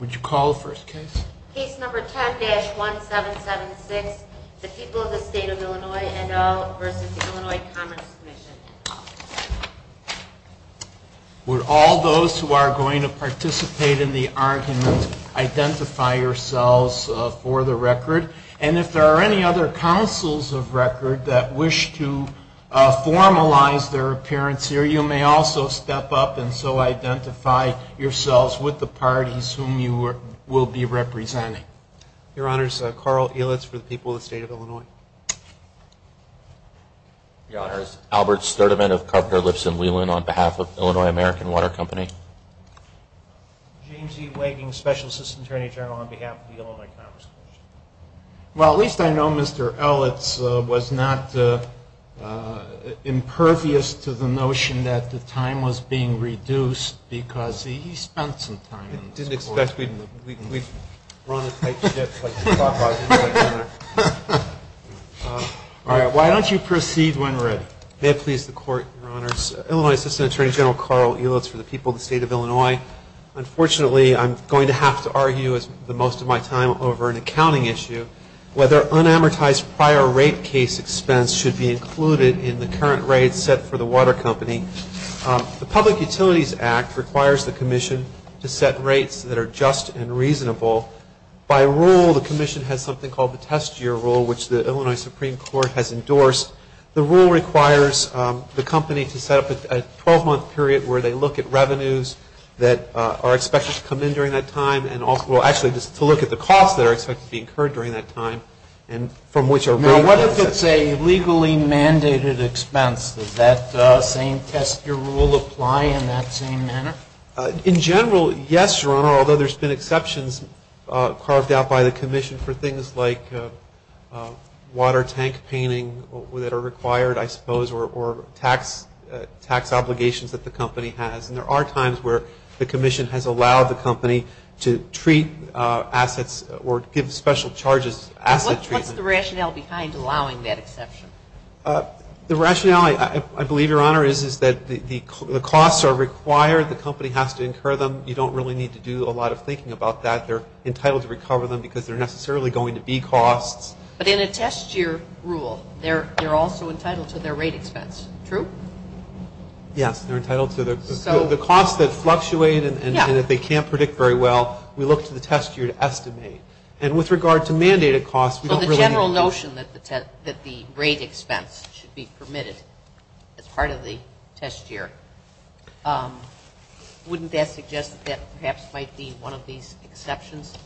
Would all those who are going to participate in the argument identify yourselves for the record, and if there are any other counsels of record that wish to formalize their appearance here, you may also step up and so identify yourselves with the parties whom you are representing. Your Honors, Carl Elitz for the people of the State of Illinois. Your Honors, Albert Sturdivant of Carper, Lipson, Whelan on behalf of Illinois American Water Company. James E. Wagon, Special Assistant Attorney General on behalf of the Illinois Commerce Commission. Well, at least I know Mr. Elitz was not impervious to the notion that the time was being reduced because he spent some time. Why don't you proceed when ready. May it please the Court, Your Honors. Illinois Assistant Attorney General Carl Elitz for the people of the State of Illinois. Unfortunately, I'm going to have to argue the most of my time over an accounting issue, whether unamortized prior rate case expense should be included in the current rate set for the water company. The Public Utilities Act requires the Commission to set rates that are just and reasonable. By rule, the Commission has something called the test year rule, which the Illinois Supreme Court has endorsed. The rule requires the company to set up a 12-month period where they look at revenues that are expected to come in during that time. Well, actually, to look at the costs that are expected to be incurred during that time. Now, what if it's a legally mandated expense? Does that same test year rule apply in that same manner? In general, yes, Your Honor, although there's been exceptions caused out by the Commission for things like water tank painting that are required, I suppose, or tax obligations that the company has. And there are times where the Commission has allowed the company to treat assets or give special charges. What's the rationale behind allowing that exception? The rationale, I believe, Your Honor, is that the costs are required. The company has to incur them. You don't really need to do a lot of thinking about that. They're entitled to recover them because they're necessarily going to be costs. But in a test year rule, they're also entitled to their rate expense. True? Yes, they're entitled to their rate expense. So the costs that fluctuate and that they can't predict very well, we look to the test year to estimate. And with regard to mandated costs, we don't really need to. But if there's a suggestion that the rate expense should be permitted as part of the test year, wouldn't that suggest that perhaps might be one of these exceptions?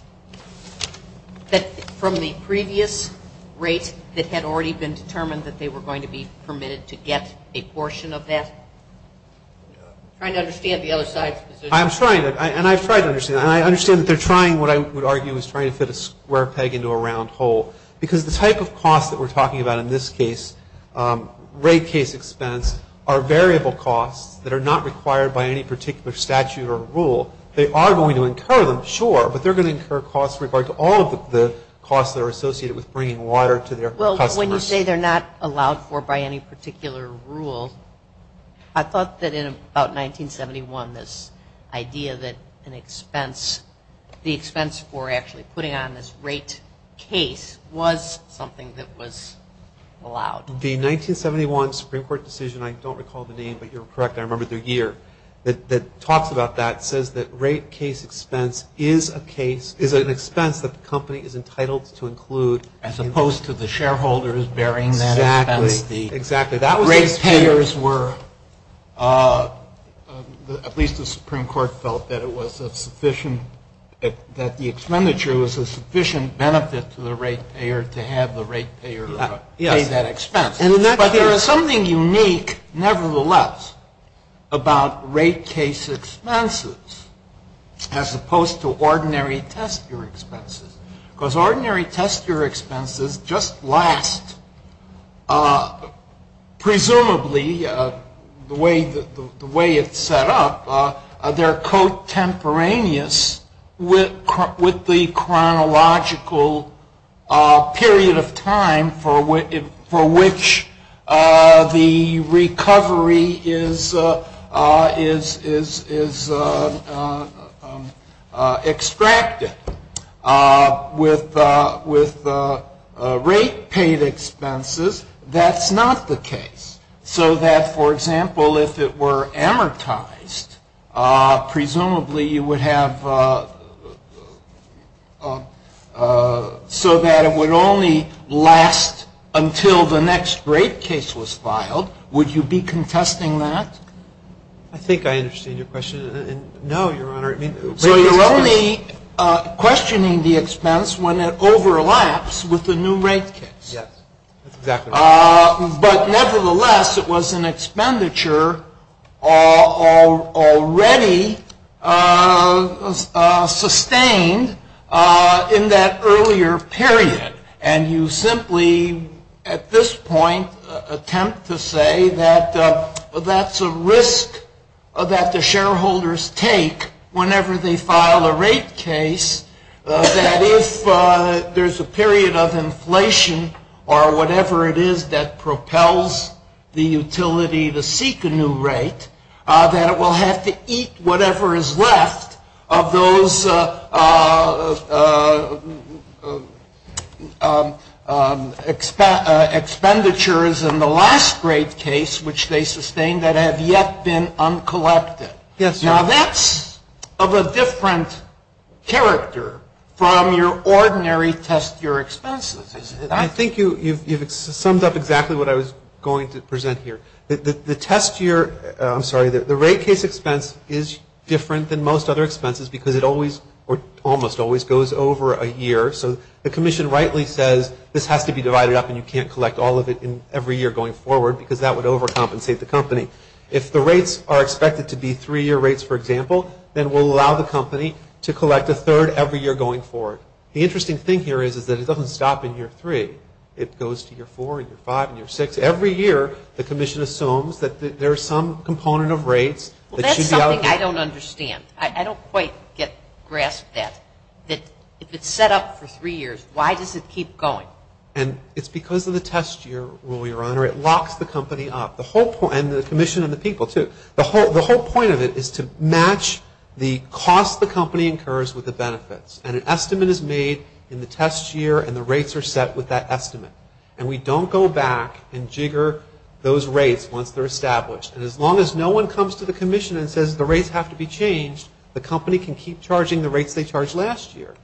That from the previous rate, it had already been determined that they were going to be permitted to get a portion of that? I'm trying to understand the other side's position. I'm trying to. And I try to understand. I understand that they're trying what I would argue is trying to fit a square peg into a round hole. Because the type of cost that we're talking about in this case, rate case expense, are variable costs that are not required by any particular statute or rule. They are going to incur them, sure. But they're going to incur costs with regards to all of the costs that are associated with bringing water to their customers. Well, when you say they're not allowed for by any particular rule, I thought that in about 1971, this idea that an expense, the expense for actually putting on this rate case was something that was allowed. The 1971 Supreme Court decision, I don't recall the name, but you're correct, I remember the year, that talks about that, says that rate case expense is a case, is an expense that the company is entitled to include. As opposed to the shareholders bearing that expense. Exactly. Rate payers were, at least the Supreme Court felt that it was a sufficient, that the expenditure was a sufficient benefit to the rate payer to have the rate payer pay that expense. But there is something unique, nevertheless, about rate case expenses, as opposed to ordinary test year expenses. Because ordinary test year expenses just last, presumably, the way it's set up, they're contemporaneous with the chronological period of time for which the recovery is extracted. With rate paid expenses, that's not the case. So that, for example, if it were amortized, presumably you would have, so that it would only last until the next rate case was filed. Would you be contesting that? I think I understand your question. No, Your Honor. So you're only questioning the expense when it overlaps with the new rate case. But nevertheless, it was an expenditure already sustained in that earlier period. And you simply, at this point, attempt to say that that's a risk that the shareholders take whenever they file a rate case, that if there's a period of inflation or whatever it is that propels the utility to seek a new rate, that it will have to eat whatever is left of those expenditures in the last rate case, which they sustained that have yet been uncollected. Yes, Your Honor. Now that's of a different character from your ordinary test year expenses. I think you've summed up exactly what I was going to present here. The test year, I'm sorry, the rate case expense is different than most other expenses because it always or almost always goes over a year. So the commission rightly says this has to be divided up and you can't collect all of it in every year going forward because that would overcompensate the company. If the rates are expected to be three-year rates, for example, then we'll allow the company to collect a third every year going forward. The interesting thing here is that it doesn't stop in year three. It goes to year four and year five and year six. So every year the commission assumes that there is some component of rates that should be out. Well, that's something I don't understand. I don't quite grasp that. If it's set up for three years, why does it keep going? And it's because of the test year rule, Your Honor. It locks the company up. And the commission and the people too. The whole point of it is to match the cost the company incurs with the benefits. And we don't go back and jigger those rates once they're established. And as long as no one comes to the commission and says the rates have to be changed, the company can keep charging the rates they charged last year.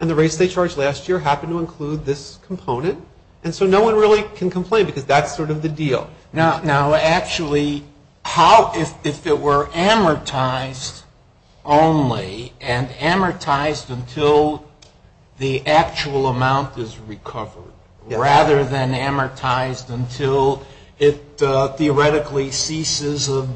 And the rates they charged last year happen to include this component. And so no one really can complain because that's sort of the deal. Now, actually, if it were amortized only and amortized until the actual amount is recovered, rather than amortized until it theoretically ceases of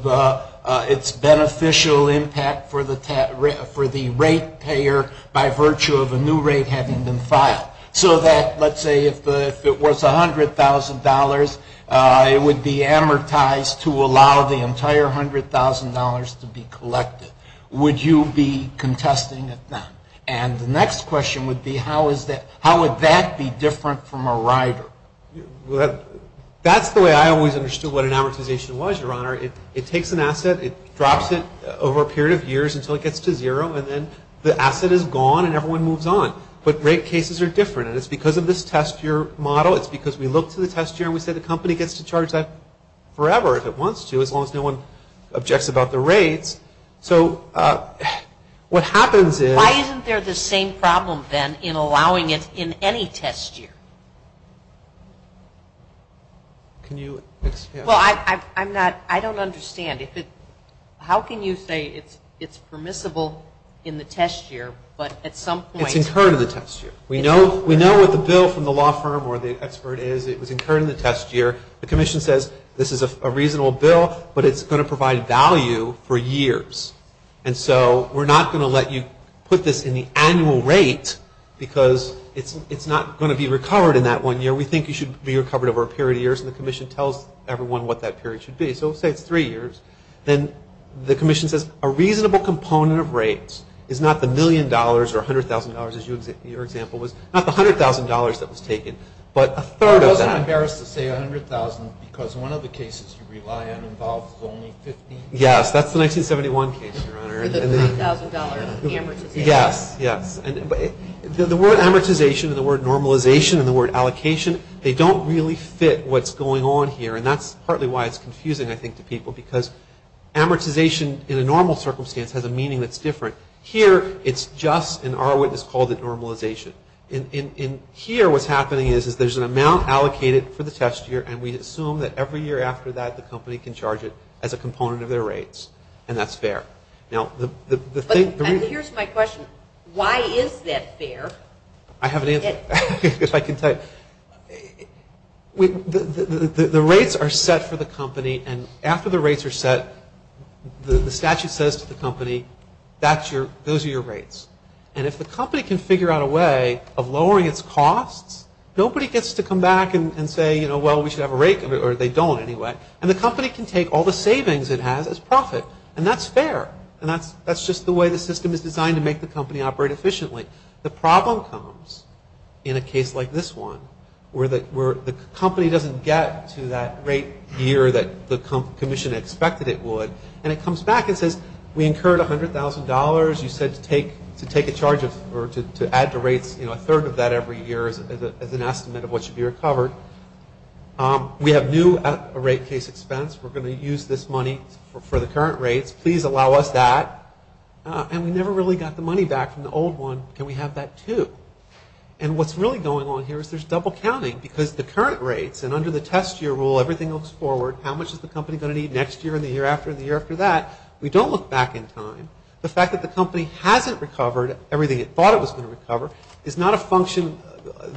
its beneficial impact for the rate payer by virtue of the new rate having been filed. So that, let's say, if it was $100,000, it would be amortized to allow the entire $100,000 to be collected. Would you be contesting it now? And the next question would be how would that be different from a rider? That's the way I always understood what an amortization was, Your Honor. It takes an asset. It drops it over a period of years until it gets to zero. And then the asset is gone and everyone moves on. But rate cases are different. And it's because of this test year model. It's because we look to the test year and we say the company gets to charge that forever if it wants to as long as no one objects about the rate. So what happens is... Why isn't there the same problem then in allowing it in any test year? Can you... Well, I'm not... I don't understand. How can you say it's permissible in the test year but at some point... We concur to the test year. We know what the bill from the law firm or the expert is. We concur to the test year. The commission says this is a reasonable bill but it's going to provide value for years. And so we're not going to let you put this in the annual rate because it's not going to be recovered in that one year. We think you should be recovered over a period of years. And the commission tells everyone what that period should be. So let's say it's three years. Then the commission says a reasonable component of rates is not the million dollars or $100,000, as your example was, not the $100,000 that was taken but a third of that. I'm embarrassed to say $100,000 because one of the cases you rely on involves only $15,000. Yes, that's the 1971 case, Your Honor. It's a $10,000 amortization. Yes, yes. The word amortization and the word normalization and the word allocation, they don't really fit what's going on here. And that's partly why it's confusing, I think, to people. Because amortization in a normal circumstance has a meaning that's different. Here it's just, and our witness called it normalization. And here what's happening is there's an amount allocated for the test year and we assume that every year after that the company can charge it as a component of their rates. And that's fair. Now the thing... And here's my question. Why is that fair? I have an answer. I guess I can tell you. The rates are set for the company and after the rates are set, the statute says to the company, those are your rates. And if the company can figure out a way of lowering its costs, nobody gets to come back and say, well, we should have a rate, or they don't anyway. And the company can take all the savings it has as profit. And that's fair. And that's just the way the system is designed to make the company operate efficiently. The problem comes in a case like this one where the company doesn't get to that rate year that the commission expected it would. And it comes back and says, we incurred $100,000. You said to take a charge or to add the rates, you know, a third of that every year as an estimate of what should be recovered. We have new rate case expense. We're going to use this money for the current rates. Please allow us that. And we never really got the money back from the old one, and we have that too. And what's really going on here is there's double counting because the current rates, and under the test year rule, everything looks forward. How much is the company going to need next year and the year after and the year after that? We don't look back in time. The fact that the company hasn't recovered everything it thought it was going to recover is not a function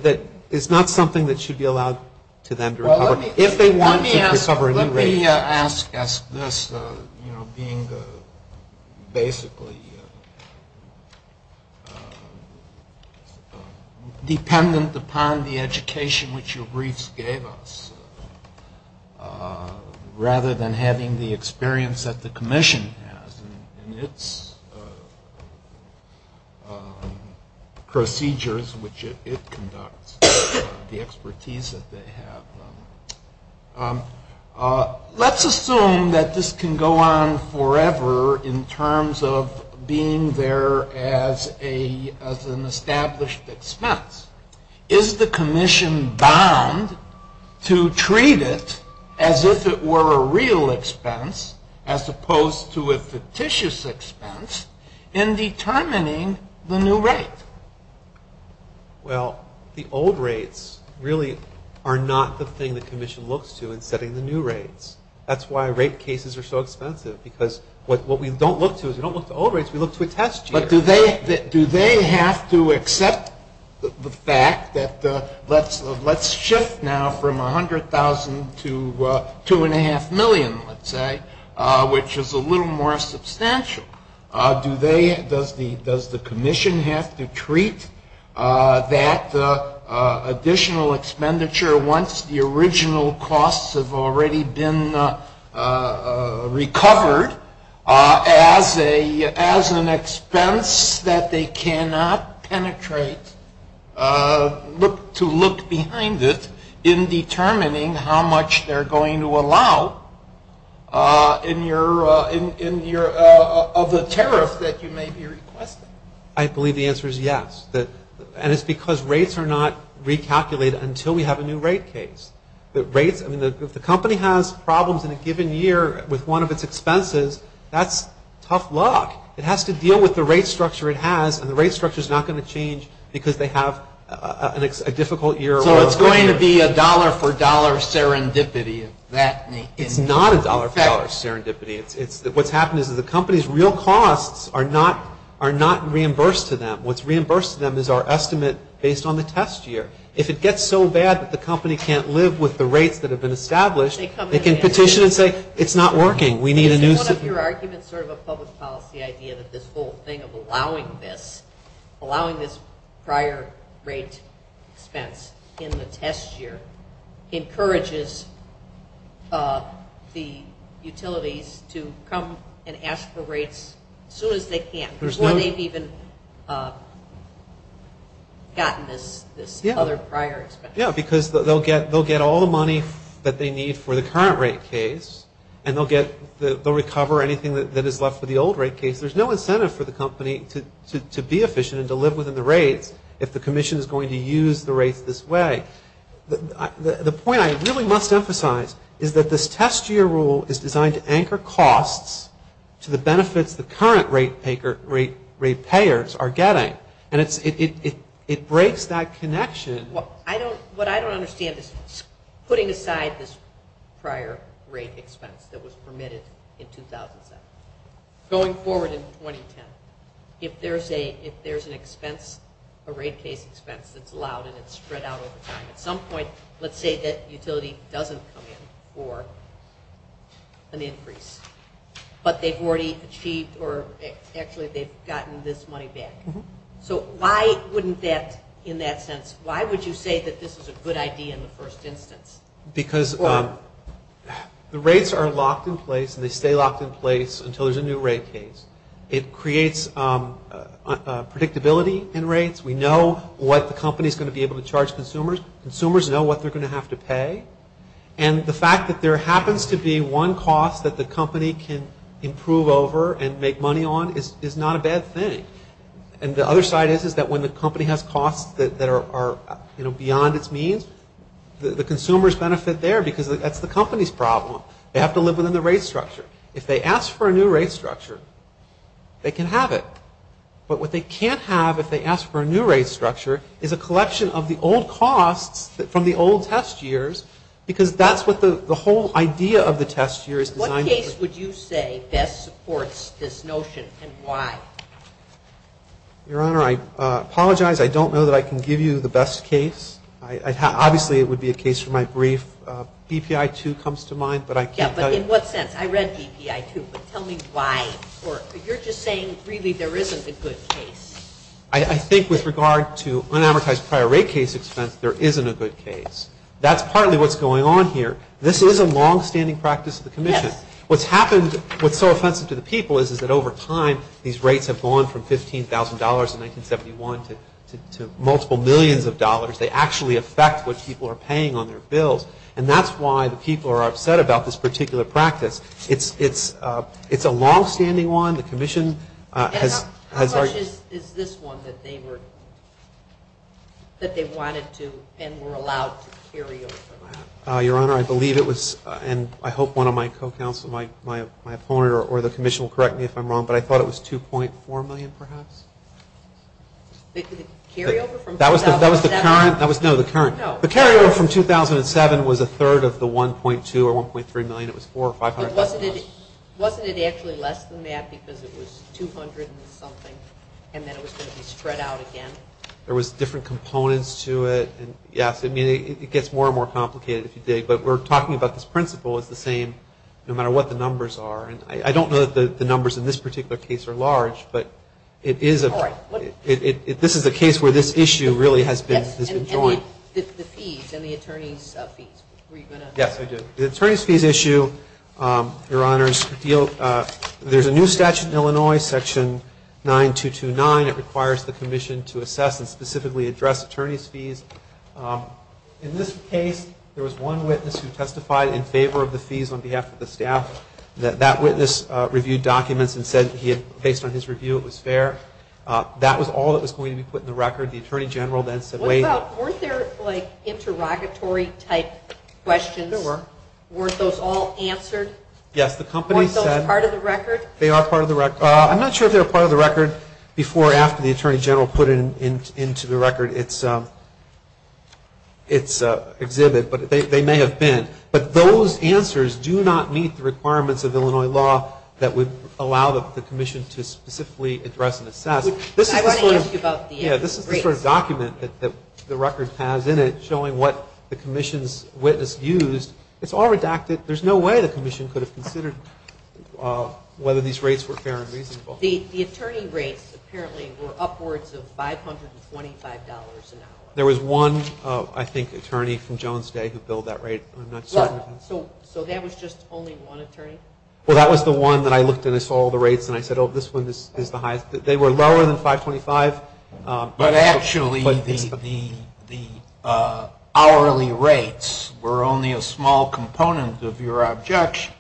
that is not something that should be allowed to them to recover if they want to recover a new rate. Let me ask as this, you know, being basically dependent upon the education which your briefs gave us rather than having the experience that the commission has and its procedures which it conducts, the expertise that they have. Let's assume that this can go on forever in terms of being there as an established expense. Is the commission bound to treat it as if it were a real expense as opposed to a fictitious expense in determining the new rate? Well, the old rates really are not the thing the commission looks to in setting the new rates. That's why rate cases are so expensive because what we don't look to is we don't look to the old rates, we look to the test years. But do they have to accept the fact that let's shift now from $100,000 to $2.5 million, let's say, which is a little more substantial. Does the commission have to treat that additional expenditure once the original costs have already been recovered as an expense that they cannot penetrate to look behind it in determining how much they're going to allow of the tariff that you may be requesting? I believe the answer is yes. And it's because rates are not recalculated until we have a new rate case. If the company has problems in a given year with one of its expenses, that's tough luck. It has to deal with the rate structure it has and the rate structure is not going to change because they have a difficult year. So it's going to be a dollar-for-dollar serendipity. It's not a dollar-for-dollar serendipity. What's happened is the company's real costs are not reimbursed to them. What's reimbursed to them is our estimate based on the test year. If it gets so bad that the company can't live with the rates that have been established, they can petition and say it's not working. One of your arguments sort of a public policy idea that this whole thing of allowing this prior rate expense in the test year encourages the utilities to come and ask for rates as soon as they can before they've even gotten this other prior expense. Yeah, because they'll get all the money that they need for the current rate case and they'll recover anything that is left for the old rate case. There's no incentive for the company to be efficient and to live within the rate if the commission is going to use the rate this way. The point I really must emphasize is that this test year rule is designed to anchor costs to the benefits the current rate payers are getting and it breaks that connection. What I don't understand is putting aside this prior rate expense that was permitted in 2007. Going forward in 2010, if there's an expense, a rate paid expense that's allowed and it's spread out over time, at some point let's say that utility doesn't come in for an increase, but they've already achieved or actually they've gotten this money back. So why wouldn't that, in that sense, why would you say that this is a good idea in the first instance? Because the rates are locked in place and they stay locked in place until there's a new rate case. It creates predictability in rates. We know what the company is going to be able to charge consumers. Consumers know what they're going to have to pay. And the fact that there happens to be one cost that the company can improve over and make money on is not a bad thing. And the other side is that when the company has costs that are, you know, beyond its means, the consumers benefit there because that's the company's problem. They have to live within the rate structure. If they ask for a new rate structure, they can have it. But what they can't have if they ask for a new rate structure is a collection of the old costs from the old test years because that's what the whole idea of the test year is designed for. What would you say best supports this notion and why? Your Honor, I apologize. I don't know that I can give you the best case. Obviously, it would be a case for my brief. BPI 2 comes to mind, but I can't tell you. Yeah, but in what sense? I read BPI 2, but tell me why. You're just saying really there isn't a good case. I think with regard to unamortized prior rate cases, there isn't a good case. That's partly what's going on here. This is a longstanding practice of the Commission. What's happened, what's so offensive to the people is that over time, these rates have gone from $15,000 in 1971 to multiple millions of dollars. They actually affect what people are paying on their bills, and that's why the people are upset about this particular practice. It's a longstanding one. The Commission has argued... How much is this one that they wanted to and were allowed to carry over? Your Honor, I believe it was, and I hope one of my co-counsel, my opponent, or the Commission will correct me if I'm wrong, but I thought it was $2.4 million perhaps. Did it carry over from 2007? That was the current. No. The carryover from 2007 was a third of the $1.2 or $1.3 million. It was $4 or $5. Wasn't it actually less than that because it was $200 and something, and then it was going to be spread out again? There was different components to it. It gets more and more complicated as you dig, but we're talking about this principle. It's the same no matter what the numbers are. I don't know if the numbers in this particular case are large, but this is a case where this issue really has been joint. This is the fees and the attorney's fees. Yes, I do. The attorney's fees issue, Your Honor, there's a new statute in Illinois, Section 9229. It requires the commission to assess and specifically address attorney's fees. In this case, there was one witness who testified in favor of the fees on behalf of the staff. That witness reviewed documents and said based on his review it was fair. That was all that was going to be put in the record. The attorney general then said wait. Weren't there like interrogatory type questions? Weren't those all answered? Yes, the company said. Weren't those part of the record? They are part of the record. I'm not sure if they were part of the record before or after the attorney general put into the record its exhibit, but they may have been. But those answers do not meet the requirements of Illinois law that would allow the commission to specifically address and assess. This is a short document that the record has in it showing what the commission's witness used. It's all redacted. There's no way the commission could have considered whether these rates were fair and reasonable. The attorney rates apparently were upwards of $525 an hour. There was one, I think, attorney from Jones Day who billed that rate. So that was just only one attorney? Well, that was the one that I looked at all the rates and I said this one is the highest. They were lower than 525. But actually the hourly rates were only a small component of your objection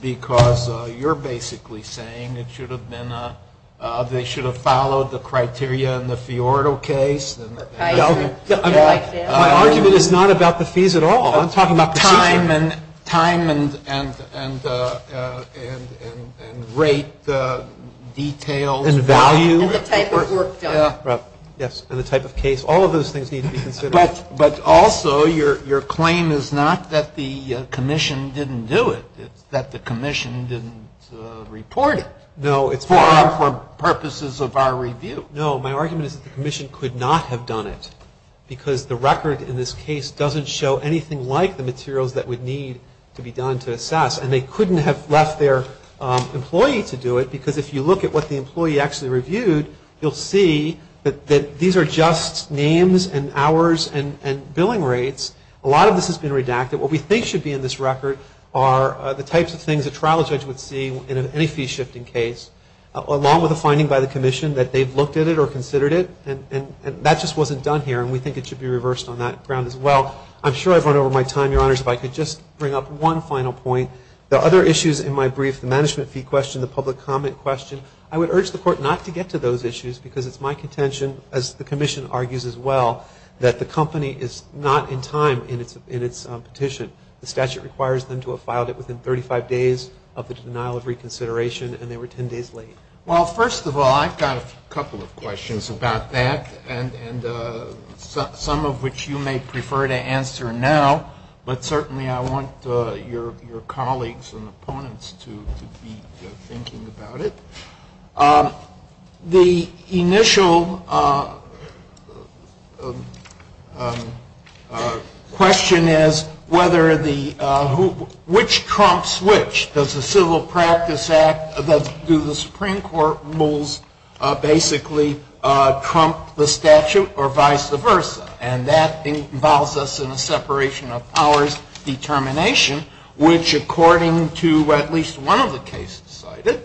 because you're basically saying they should have followed the criteria in the Fiorido case. My argument is not about the fees at all. I'm talking about time and rate, details and value. Yes, and the type of case. All of those things need to be considered. But also your claim is not that the commission didn't do it. It's that the commission didn't report it. No, it's for purposes of our review. No, my argument is that the commission could not have done it because the record in this case doesn't show anything like the materials that would need to be done to assess. And they couldn't have left their employee to do it because if you look at what the employee actually reviewed, you'll see that these are just names and hours and billing rates. A lot of this has been redacted. What we think should be in this record are the types of things a trial judge would see in any fee shifting case along with a finding by the commission that they've looked at it or considered it. And that just wasn't done here. And we think it should be reversed on that ground as well. I'm sure I've run over my time, Your Honors. If I could just bring up one final point. The other issues in my brief, the management fee question, the public comment question, I would urge the court not to get to those issues because it's my contention, as the commission argues as well, that the company is not in time in its petition. The statute requires them to have filed it within 35 days of the denial of reconsideration and they were 10 days late. Well, first of all, I've got a couple of questions about that and some of which you may prefer to answer now. But certainly I want your colleagues and opponents to be thinking about it. The initial question is which Trump switch? Does the Civil Practice Act, do the Supreme Court rules basically trump the statute or vice versa? And that involves us in the separation of powers determination, which according to at least one of the cases cited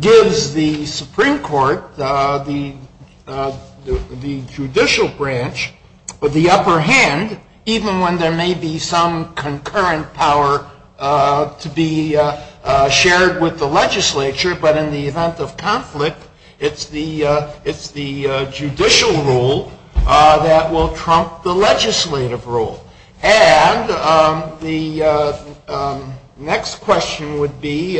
gives the Supreme Court the judicial branch with the upper hand, even when there may be some concurrent power to be shared with the legislature, but in the event of conflict, it's the judicial rule that will trump the legislative rule. And the next question would be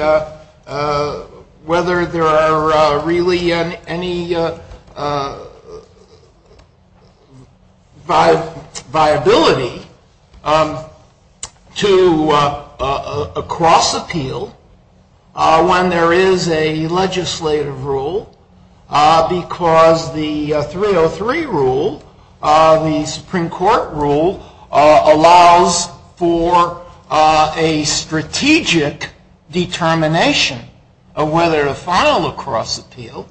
whether there are really any viability to a cross appeal when there is a legislative rule because the 303 rule, the Supreme Court rule, allows for a strategic determination of whether to file a cross appeal,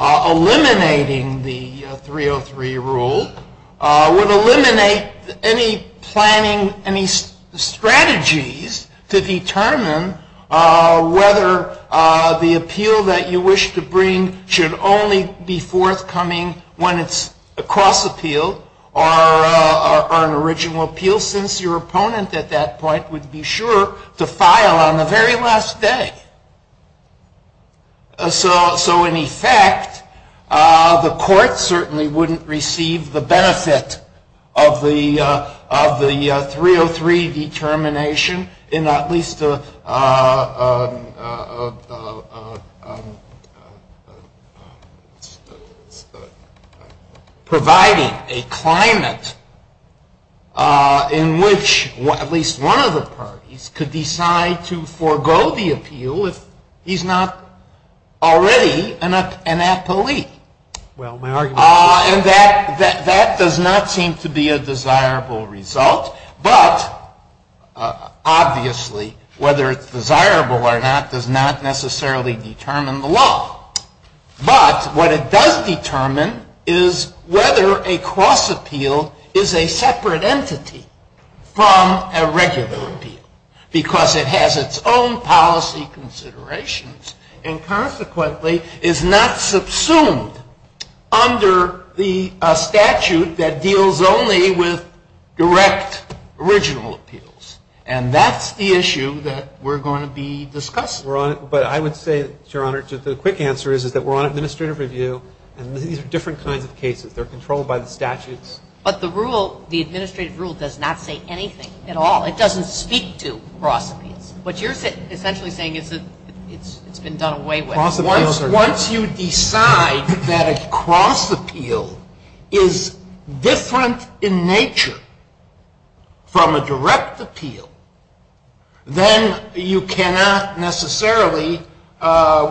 eliminating the 303 rule would eliminate any strategies to determine whether the appeal that you wish to bring should only be forthcoming when it's a cross appeal or an original appeal since your opponent at that point would be sure to file on the very last day. So in effect, the court certainly wouldn't receive the benefit of the 303 determination in at least providing a climate in which at least one of the parties could decide to forego the appeal if he's not already an athlete. And that does not seem to be a desirable result, but obviously whether it's desirable or not does not necessarily determine the law. But what it does determine is whether a cross appeal is a separate entity from a regular appeal because it has its own policy considerations and consequently is not subsumed under the statute that deals only with direct original appeals. And that's the issue that we're going to be discussing. But I would say, Your Honor, just a quick answer is that we're on administrative review and these are different kinds of cases. They're controlled by the statute. But the rule, the administrative rule does not say anything at all. It doesn't speak to cross appeals. What you're essentially saying is that it's been done away with. Once you decide that a cross appeal is different in nature from a direct appeal, then you cannot necessarily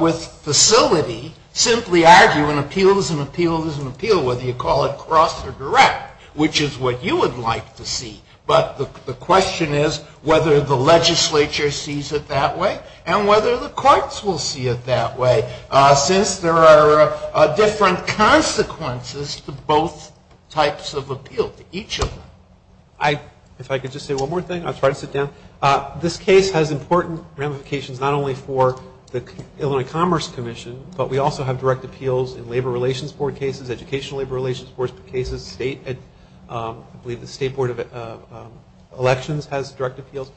with facility simply argue an appeal is an appeal is an appeal, whether you call it cross or direct, which is what you would like to see. But the question is whether the legislature sees it that way and whether the courts will see it that way since there are different consequences to both types of appeal, to each of them. If I could just say one more thing, I'll try to sit down. This case has important ramifications not only for the Illinois Commerce Commission, but we also have direct appeals in labor relations court cases, educational labor relations court cases. I believe the State Board of Elections has direct appeals.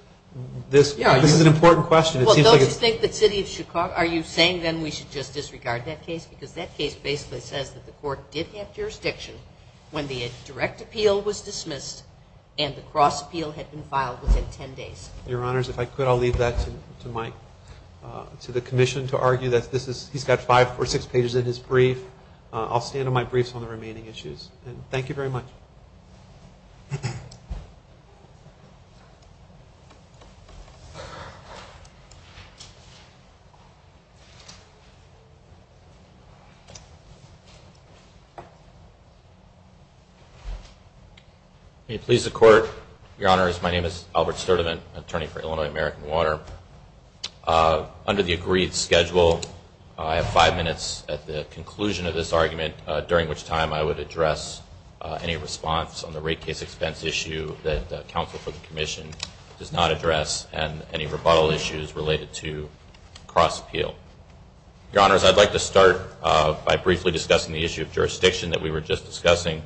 This is an important question. Well, don't you think the city of Chicago, are you saying then we should just disregard that case? Because that case basically says that the court did have jurisdiction when the direct appeal was dismissed and the cross appeal had been filed within 10 days. Your Honors, if I could, I'll leave that to the commission to argue that this is, he's got five or six pages in his brief. I'll stand on my brief on the remaining issues. Thank you very much. May it please the court. Your Honors, my name is Albert Sturdivant, attorney for Illinois American Water. Under the agreed schedule, I have five minutes at the conclusion of this argument during which time I would address any response on the rate case expense issue that the counsel for the commission does not address and any rebuttal issues related to cross appeal. Your Honors, I'd like to start by briefly discussing the issue of jurisdiction that we were just discussing,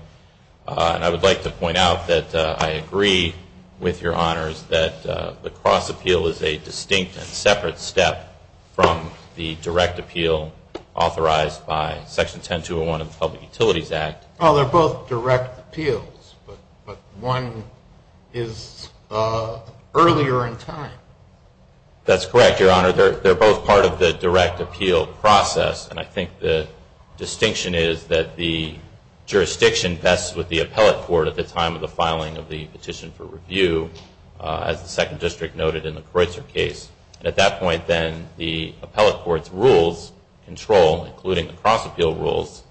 and I would like to point out that I agree with Your Honors that the cross appeal is a distinct and separate step from the direct appeal authorized by Section 10201 of the Public Utilities Act. Well, they're both direct appeals, but one is earlier in time. That's correct, Your Honor. They're both part of the direct appeal process, and I think the distinction is that the jurisdiction vests with the appellate court at the time of the filing of the petition for review, as the second district noted in the Croizer case. At that point, then, the appellate court's rules control, including the cross appeal rules,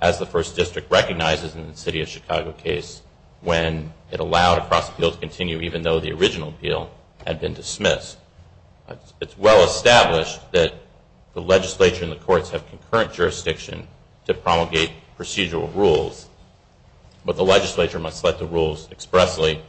as the first district recognizes in the City of Chicago case, when it allowed a cross appeal to continue even though the original appeal had been dismissed. It's well established that the legislature and the courts have concurrent jurisdiction to promulgate procedural rules, but the legislature must let the rules expressly,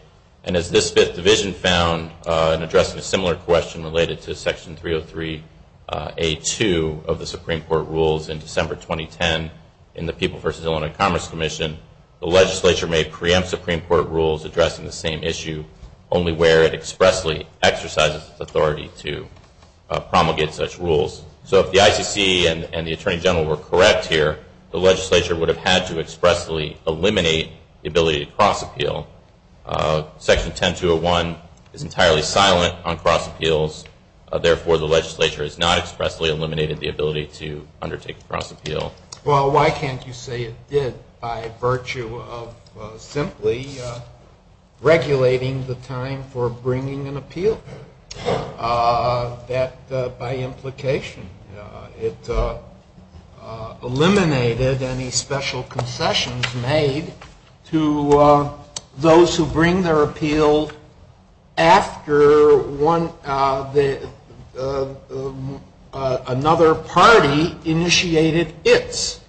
and as this fifth division found in addressing a similar question related to Section 303A2 of the Supreme Court rules in December 2010 in the People v. Illinois Commerce Commission, the legislature may preempt Supreme Court rules addressing the same issue, only where it expressly exercises authority to promulgate such rules. So if the IPC and the Attorney General were correct here, the legislature would have had to expressly eliminate the ability to cross appeal. Section 10201 is entirely silent on cross appeals. Therefore, the legislature has not expressly eliminated the ability to undertake cross appeal. Well, why can't you say it did by virtue of simply regulating the time for bringing an appeal? That, by implication, it eliminated any special concessions made to those who bring their appeal after another party initiated its.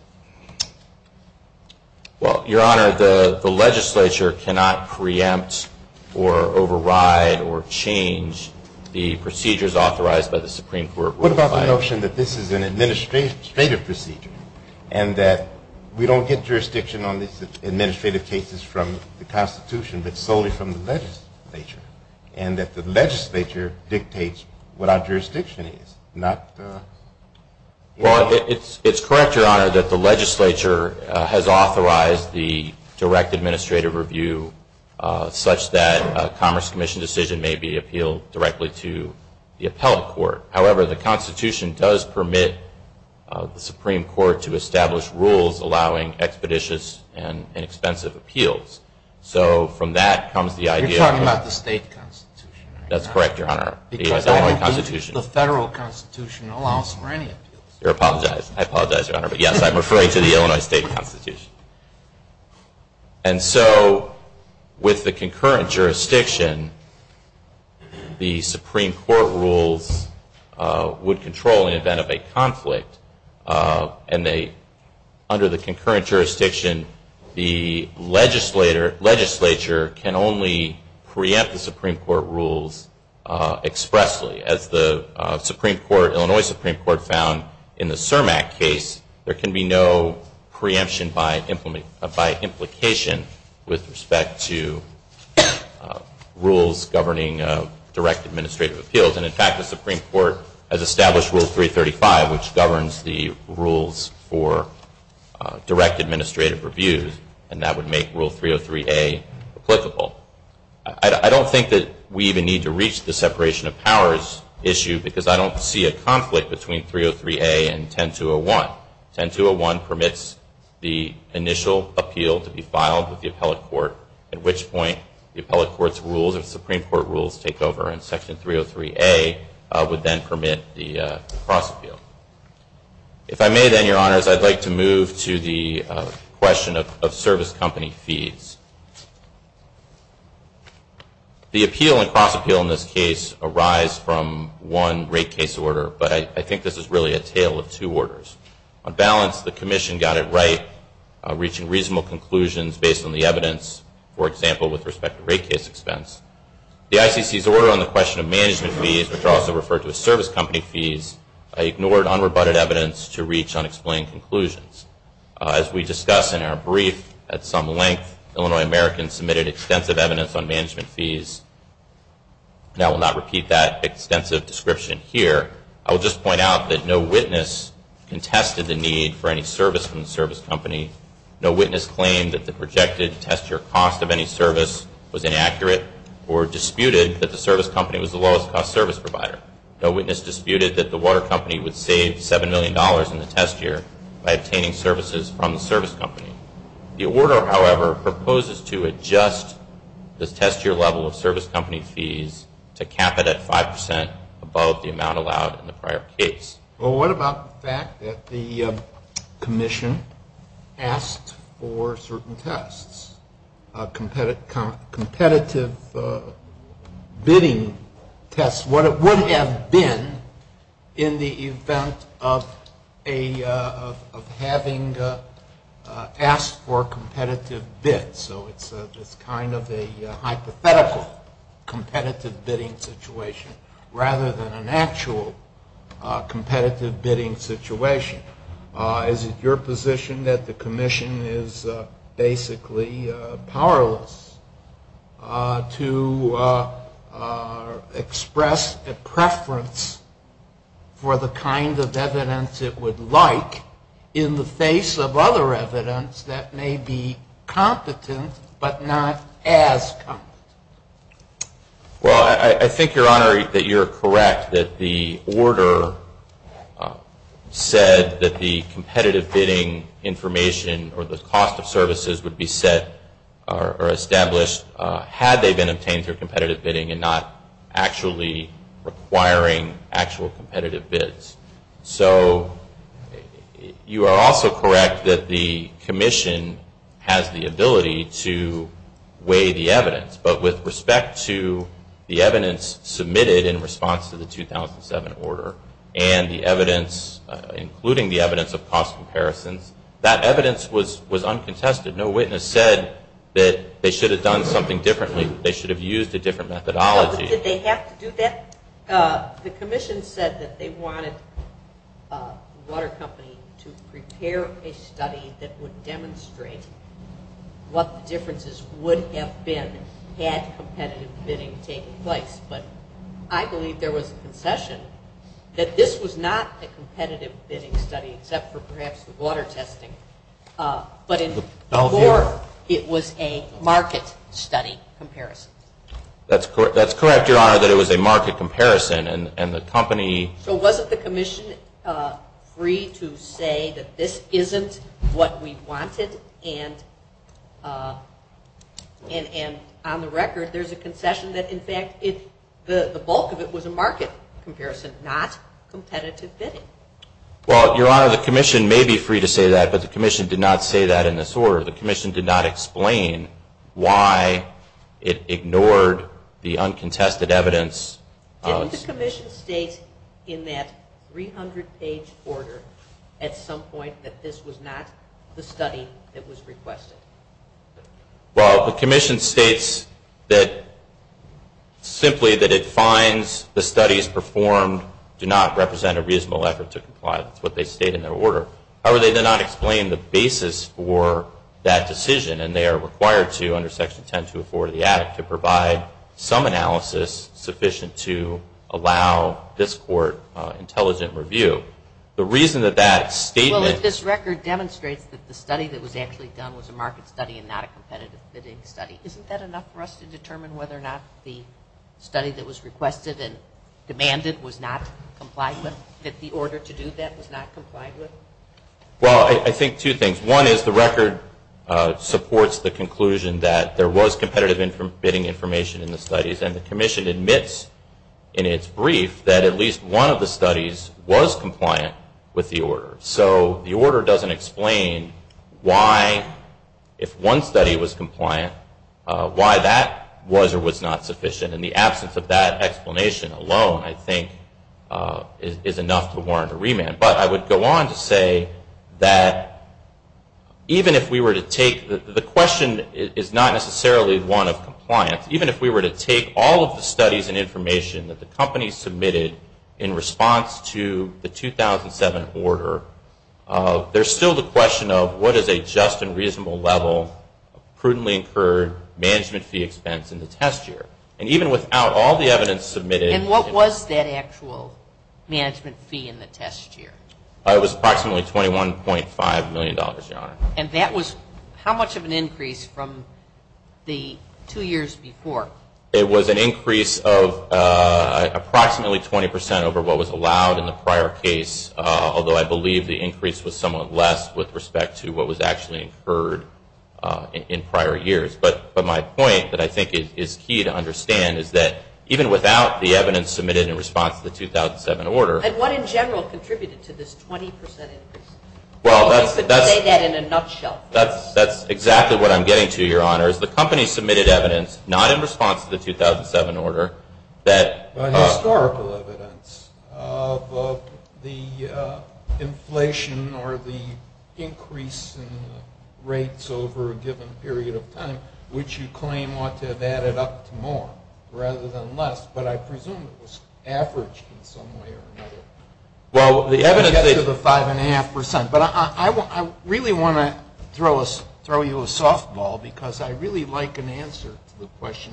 Well, Your Honor, the legislature cannot preempt or override or change the procedures authorized by the Supreme Court. What about the notion that this is an administrative procedure and that we don't get jurisdiction on these administrative cases from the Constitution, but solely from the legislature, and that the legislature dictates what our jurisdiction is? Well, it's correct, Your Honor, that the legislature has authorized the direct administrative review such that a Commerce Commission decision may be appealed directly to the appellate court. However, the Constitution does permit the Supreme Court to establish rules allowing expeditious and inexpensive appeals. So, from that comes the idea... You're talking about the state Constitution, right? That's correct, Your Honor. The federal Constitution allows for any appeals. I apologize, Your Honor, but yes, I'm referring to the Illinois state Constitution. And so, with the concurrent jurisdiction, the Supreme Court rules would control in the event of a conflict, and under the concurrent jurisdiction, the legislature can only preempt the Supreme Court rules expressly. And as the Illinois Supreme Court found in the CERMAC case, there can be no preemption by implication with respect to rules governing direct administrative appeals. And in fact, the Supreme Court has established Rule 335, which governs the rules for direct administrative reviews, and that would make Rule 303A applicable. I don't think that we even need to reach the separation of powers issue because I don't see a conflict between 303A and 10201. 10201 permits the initial appeal to be filed with the appellate court, at which point the appellate court's rules or Supreme Court rules take over, and Section 303A would then permit the cross-appeal. If I may then, Your Honors, I'd like to move to the question of service company fees. The appeal and cross-appeal in this case arise from one rate case order, but I think this is really a tale of two orders. On balance, the Commission got it right, reaching reasonable conclusions based on the evidence, for example, with respect to rate case expense. The FCC's order on the question of management fees, which are also referred to as service company fees, ignored unrebutted evidence to reach unexplained conclusions. As we discussed in our brief at some length, Illinois Americans submitted extensive evidence on management fees, and I will not repeat that extensive description here. I will just point out that no witness contested the need for any service from the service company. No witness claimed that the projected test or cost of any service was inaccurate or disputed that the service company was the lowest-cost service provider. No witness disputed that the water company would save $7 million in the test year by obtaining services from the service company. The order, however, proposes to adjust the test year level of service company fees to cap it at 5% above the amount allowed in the prior case. Well, what about the fact that the Commission asked for certain tests, competitive bidding tests? That's what it would have been in the event of having asked for a competitive bid. So it's just kind of a hypothetical competitive bidding situation, rather than an actual competitive bidding situation. Is it your position that the Commission is basically powerless to express a preference for the kind of evidence it would like in the face of other evidence that may be competent but not as competent? Well, I think, Your Honor, that you're correct that the order said that the competitive bidding information or the cost of services would be set or established had they been obtained through competitive bidding and not actually requiring actual competitive bids. So you are also correct that the Commission has the ability to weigh the evidence. But with respect to the evidence submitted in response to the 2007 order and the evidence, including the evidence of cost comparison, that evidence was uncontested. No witness said that they should have done something differently. They should have used a different methodology. Did they have to do that? The Commission said that they wanted the water company to prepare a study that would demonstrate what the differences would have been had competitive bidding taken place. But I believe there was a concession that this was not a competitive bidding study, except for perhaps the water testing, but it was a market study comparison. That's correct, Your Honor, that it was a market comparison. So wasn't the Commission free to say that this isn't what we wanted? And on the record, there's a concession that, in fact, the bulk of it was a market comparison, not competitive bidding. Well, Your Honor, the Commission may be free to say that, but the Commission did not say that in this order. The Commission did not explain why it ignored the uncontested evidence. Didn't the Commission state in that 300-page order at some point that this was not the study that was requested? Well, the Commission states simply that it finds the studies performed do not represent a reasonable effort to comply. That's what they state in their order. However, they did not explain the basis for that decision, and they are required to, under Section 10-204 of the Act, to provide some analysis sufficient to allow this court intelligent review. The reason that that statement... Well, if this record demonstrates that the study that was actually done was a market study and not a competitive bidding study, isn't that enough for us to determine whether or not the study that was requested and demanded was not complied with, if the order to do that was not complied with? Well, I think two things. One is the record supports the conclusion that there was competitive bidding information in the studies, and the Commission admits in its brief that at least one of the studies was compliant with the order. So the order doesn't explain why, if one study was compliant, why that was or was not sufficient. And the absence of that explanation alone, I think, is enough to warrant a remand. But I would go on to say that even if we were to take... The question is not necessarily one of compliance. Even if we were to take all of the studies and information that the company submitted in response to the 2007 order, there's still the question of what is a just and reasonable level, prudently for management fee expense in the test year. And even without all the evidence submitted... And what was that actual management fee in the test year? It was approximately $21.5 million. And that was how much of an increase from the two years before? It was an increase of approximately 20% over what was allowed in the prior case, although I believe the increase was somewhat less with respect to what was actually incurred in prior years. But my point that I think is key to understand is that even without the evidence submitted in response to the 2007 order... And what in general contributed to this 20% increase? Well, that's... Say that in a nutshell. That's exactly what I'm getting to, Your Honor. The company submitted evidence not in response to the 2007 order that... Historical evidence of the inflation or the increase in rates over a given period of time, which you claim ought to have added up to more rather than less, but I presume it was averaged in some way or another. Well, the evidence is a 5.5%, but I really want to throw you a softball because I really like an answer to the question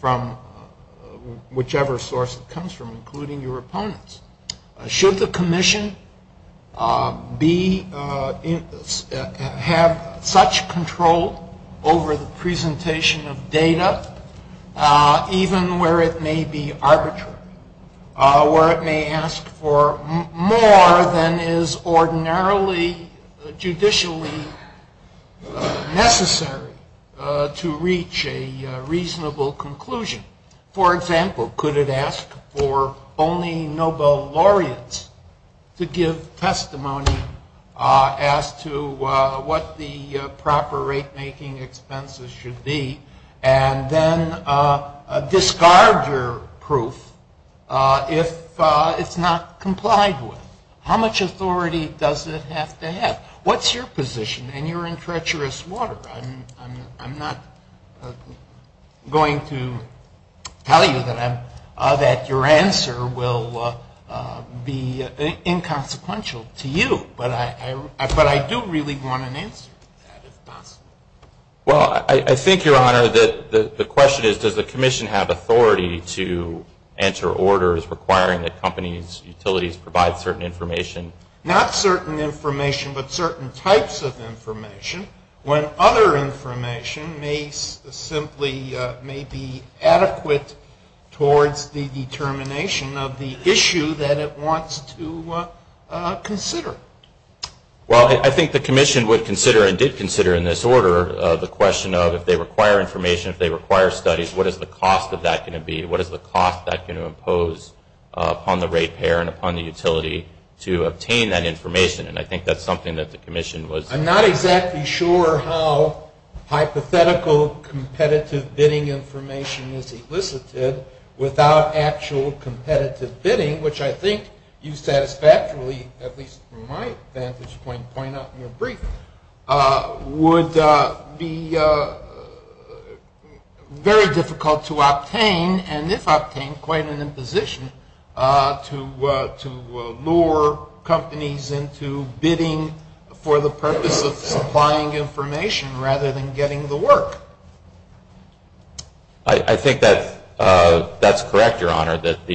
from whichever source it comes from, including your opponents. Should the commission have such control over the presentation of data, even where it may be arbitrary, where it may ask for more than is ordinarily judicially necessary to reach a reasonable conclusion? For example, could it ask for only Nobel laureates to give testimony as to what the proper rate-making expenses should be and then discard your proof if it's not complied with? How much authority does it have to have? What's your position? And you're in treacherous water. I'm not going to tell you that your answer will be inconsequential to you, but I do really want an answer. Well, I think, Your Honor, the question is, does the commission have authority to enter orders requiring that companies' utilities provide certain information? Not certain information, but certain types of information, when other information may be adequate towards the determination of the issue that it wants to consider. Well, I think the commission would consider and did consider in this order the question of, if they require information, if they require studies, what is the cost of that going to be? What is the cost that's going to impose upon the rate payer and upon the utility to obtain that information? And I think that's something that the commission was— I'm not exactly sure how hypothetical competitive bidding information is elicited without actual competitive bidding, which I think you satisfactorily, at least from my standpoint, point out in your brief, would be very difficult to obtain, and if obtained, quite an imposition to lure companies into bidding for the purpose of supplying information rather than getting the work. I think that's correct, Your Honor, that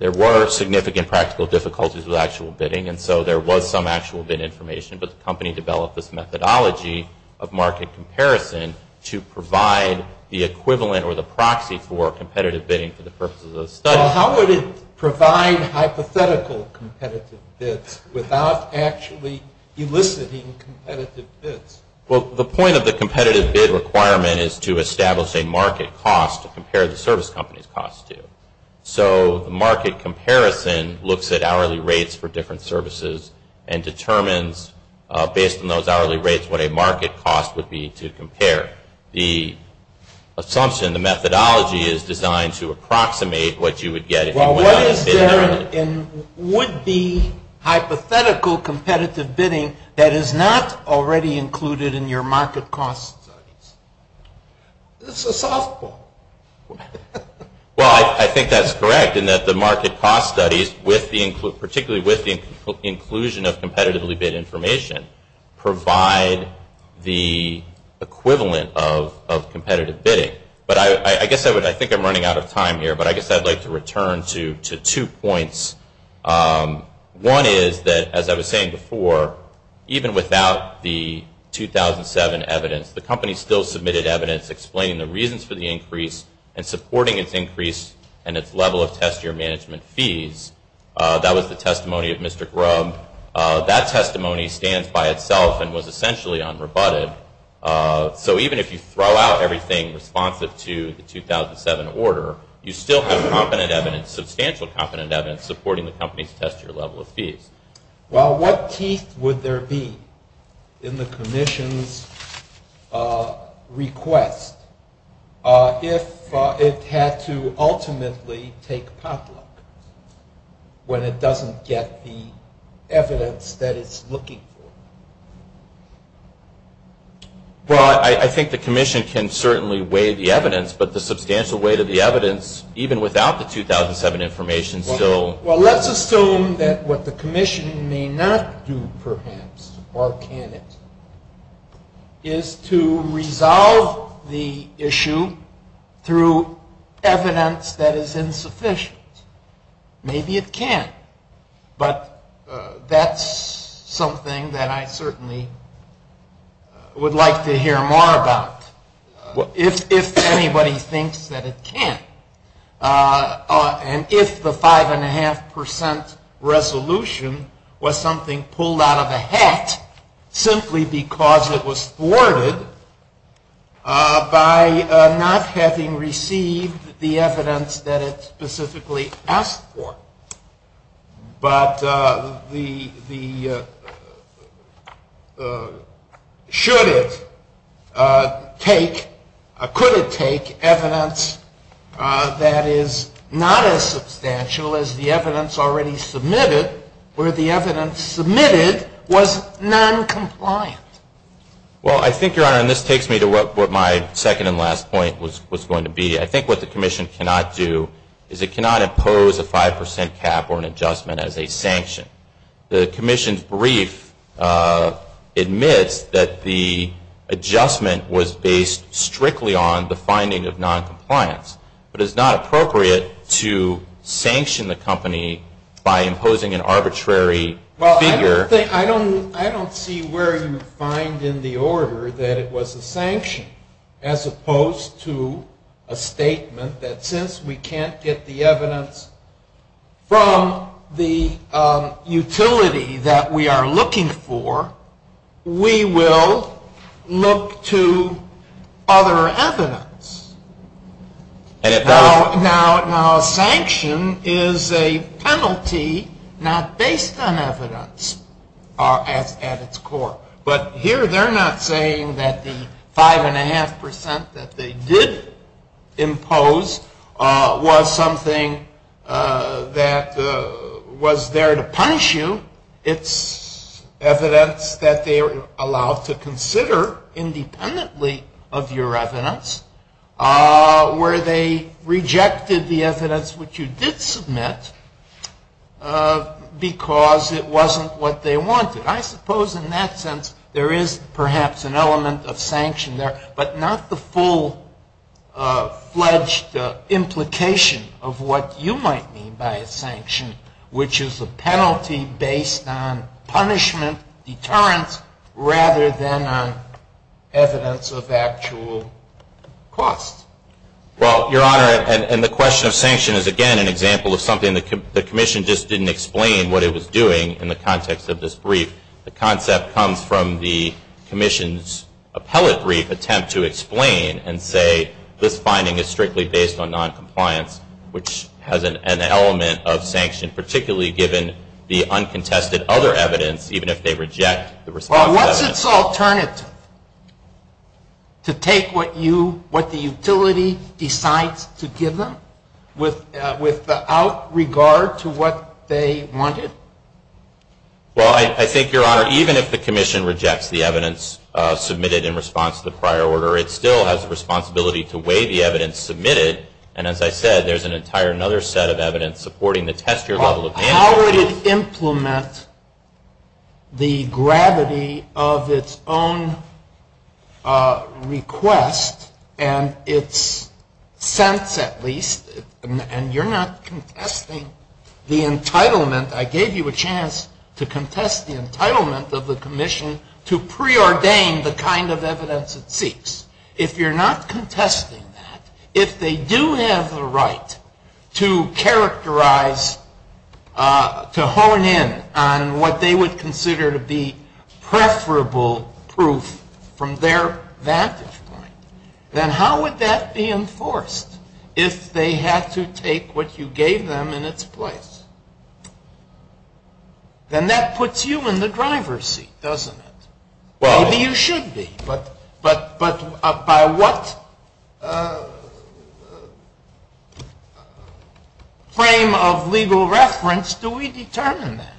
there were significant practical difficulties with actual bidding, and so there was some actual bid information, but the company developed this methodology of market comparison to provide the equivalent or the proxy for competitive bidding for the purpose of those studies. Well, how could it provide hypothetical competitive bids without actually eliciting competitive bids? Well, the point of the competitive bid requirement is to establish a market cost to compare the service company's cost to. So, the market comparison looks at hourly rates for different services and determines, based on those hourly rates, what a market cost would be to compare. The assumption, the methodology, is designed to approximate what you would get— What is there in the hypothetical competitive bidding that is not already included in your market cost studies? It's a softball. Well, I think that's correct in that the market cost studies, particularly with the inclusion of competitively bid information, provide the equivalent of competitive bidding. But I guess I think I'm running out of time here, but I guess I'd like to return to two points. One is that, as I was saying before, even without the 2007 evidence, the company still submitted evidence explaining the reasons for the increase and supporting its increase and its level of test year management fees. That was the testimony of Mr. Grubb. That testimony stands by itself and was essentially unrebutted. So, even if you throw out everything responsive to the 2007 order, you still have confident evidence, substantial confident evidence, supporting the company's test year level of fees. Well, what teeth would there be in the commission's request if it had to ultimately take public when it doesn't get the evidence that it's looking for? Well, I think the commission can certainly weigh the evidence, but the substantial weight of the evidence, even without the 2007 information, still... Well, let's assume that what the commission may not do, perhaps, or can't do, is to resolve the issue through evidence that is insufficient. Maybe it can't, but that's something that I certainly would like to hear more about. If anybody thinks that it can't, and if the 5.5% resolution was something pulled out of a hat, simply because it was thwarted by not having received the evidence that it specifically asked for, but could it take evidence that is not as substantial as the evidence already submitted, where the evidence submitted was noncompliant? Well, I think, Your Honor, and this takes me to what my second and last point was going to be. I think what the commission cannot do is it cannot impose a 5% cap or an adjustment as a sanction. The commission's brief admits that the adjustment was based strictly on the finding of noncompliance, but it's not appropriate to sanction the company by imposing an arbitrary figure. Well, I don't see where you find in the order that it was a sanction, as opposed to a statement that since we can't get the evidence from the utility that we are looking for, we will look to other evidence. Now, a sanction is a penalty not based on evidence at its core, but here they're not saying that the 5.5% that they did impose was something that was there to punish you. It's evidence that they're allowed to consider independently of your evidence, where they rejected the evidence which you did submit because it wasn't what they wanted. I suppose in that sense there is perhaps an element of sanction there, but not the full-fledged implication of what you might mean by a sanction, which is a penalty based on punishment, deterrence, rather than on evidence of actual costs. Well, Your Honor, and the question of sanction is, again, an example of something the commission just didn't explain what it was doing in the context of this brief. The concept comes from the commission's appellate brief attempt to explain and say this finding is strictly based on noncompliance, which has an element of sanction, particularly given the uncontested other evidence, even if they reject the response to evidence. Well, what's its alternative? To take what the utility decides to give them without regard to what they wanted? Well, I think, Your Honor, even if the commission rejects the evidence submitted in response to the prior order, it still has the responsibility to weigh the evidence submitted, and as I said, there's an entire other set of evidence supporting the tester level of sanction. How would it implement the gravity of its own request and its sense, at least, and you're not contesting the entitlement. I gave you a chance to contest the entitlement of the commission to preordain the kind of evidence it seeks. If you're not contesting that, if they do have the right to characterize, to hone in on what they would consider to be preferable proof from their vantage point, then how would that be enforced if they had to take what you gave them in its place? Then that puts you in the driver's seat, doesn't it? Maybe you should be, but by what frame of legal reference do we determine that?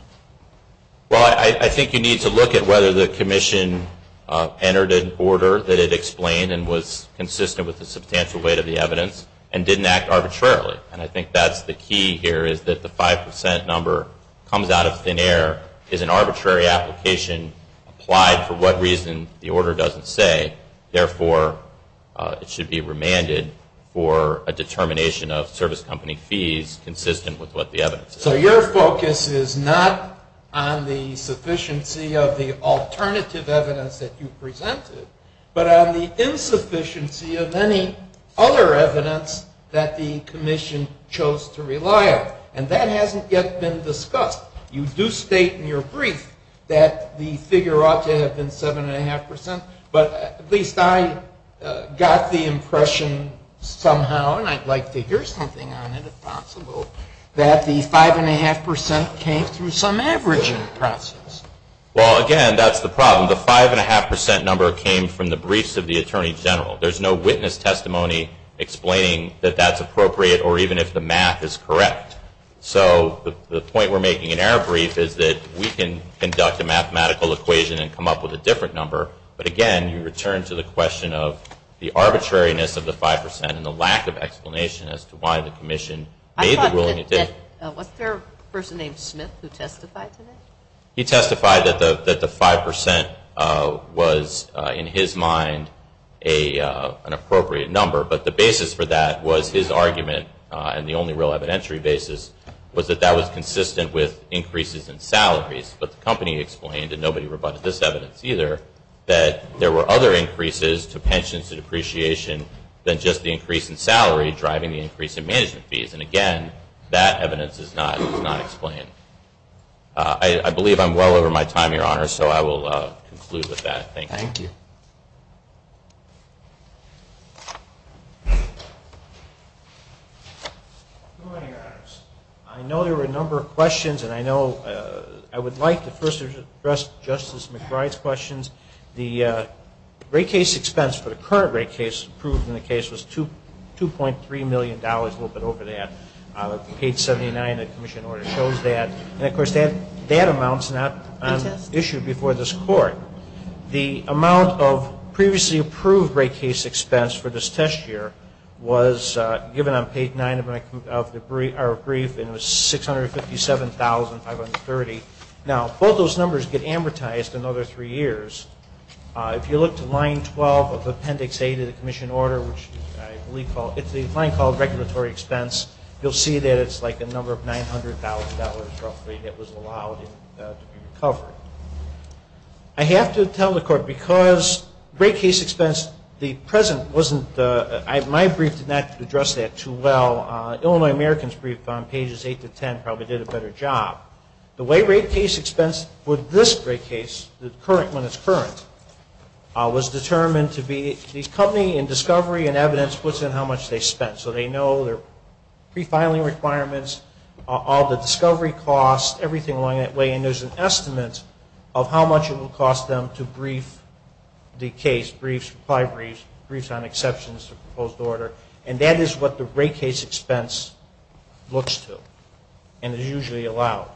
Well, I think you need to look at whether the commission entered an order that it explained and was consistent with the substantial weight of the evidence and didn't act arbitrarily, and I think that's the key here is that the 5% number comes out of thin air. Is an arbitrary application applied for what reason? The order doesn't say. Therefore, it should be remanded for a determination of service company fees consistent with what the evidence is. So your focus is not on the sufficiency of the alternative evidence that you presented, but on the insufficiency of any other evidence that the commission chose to rely on, and that hasn't yet been discussed. You do state in your brief that the figure ought to have been 7.5%, but at least I got the impression somehow, and I'd like to hear something on it if possible, that the 5.5% came from some averaging process. Well, again, that's the problem. The 5.5% number came from the briefs of the Attorney General. There's no witness testimony explaining that that's appropriate or even if the math is correct. So the point we're making in our brief is that we can conduct a mathematical equation and come up with a different number, but, again, you return to the question of the arbitrariness of the 5% and the lack of explanation as to why the commission made the ruling. Was there a person named Smith who testified to this? He testified that the 5% was, in his mind, an appropriate number, but the basis for that was his argument, and the only real evidentiary basis, was that that was consistent with increases in salaries, but the company explained, and nobody rebutted this evidence either, that there were other increases to pensions and depreciation than just the increase in salary driving the increase in management fees, and, again, that evidence does not explain it. I believe I'm well over my time, Your Honor, so I will conclude with that. Thank you. I know there were a number of questions, and I know I would like to first address Justice McBride's questions. The rate case expense for the current rate case approved in the case was $2.3 million, a little bit over that, out of page 79, the commission order shows that, and, of course, that amount is not issued before this court. The amount of previously approved rate case expense for this test year was given on page 9 of our brief, and it was $657,530. Now, both those numbers get amortized in another three years. If you look to line 12 of appendix A to the commission order, which I believe, it's a fine called regulatory expense, you'll see that it's like a number of $900,000, roughly, that was allowed to be recovered. I have to tell the court, because rate case expense, the present wasn't, my brief did not address that too well. Illinois American's brief on pages 8 to 10 probably did a better job. The way rate case expense for this rate case, the current one is current, was determined to be, the company in discovery and evidence puts in how much they spent, so they know their pre-filing requirements, all the discovery costs, everything along that way, and there's an estimate of how much it will cost them to brief the case, briefs, reply briefs, briefs on exceptions to the proposed order, and that is what the rate case expense looks to, and is usually allowed.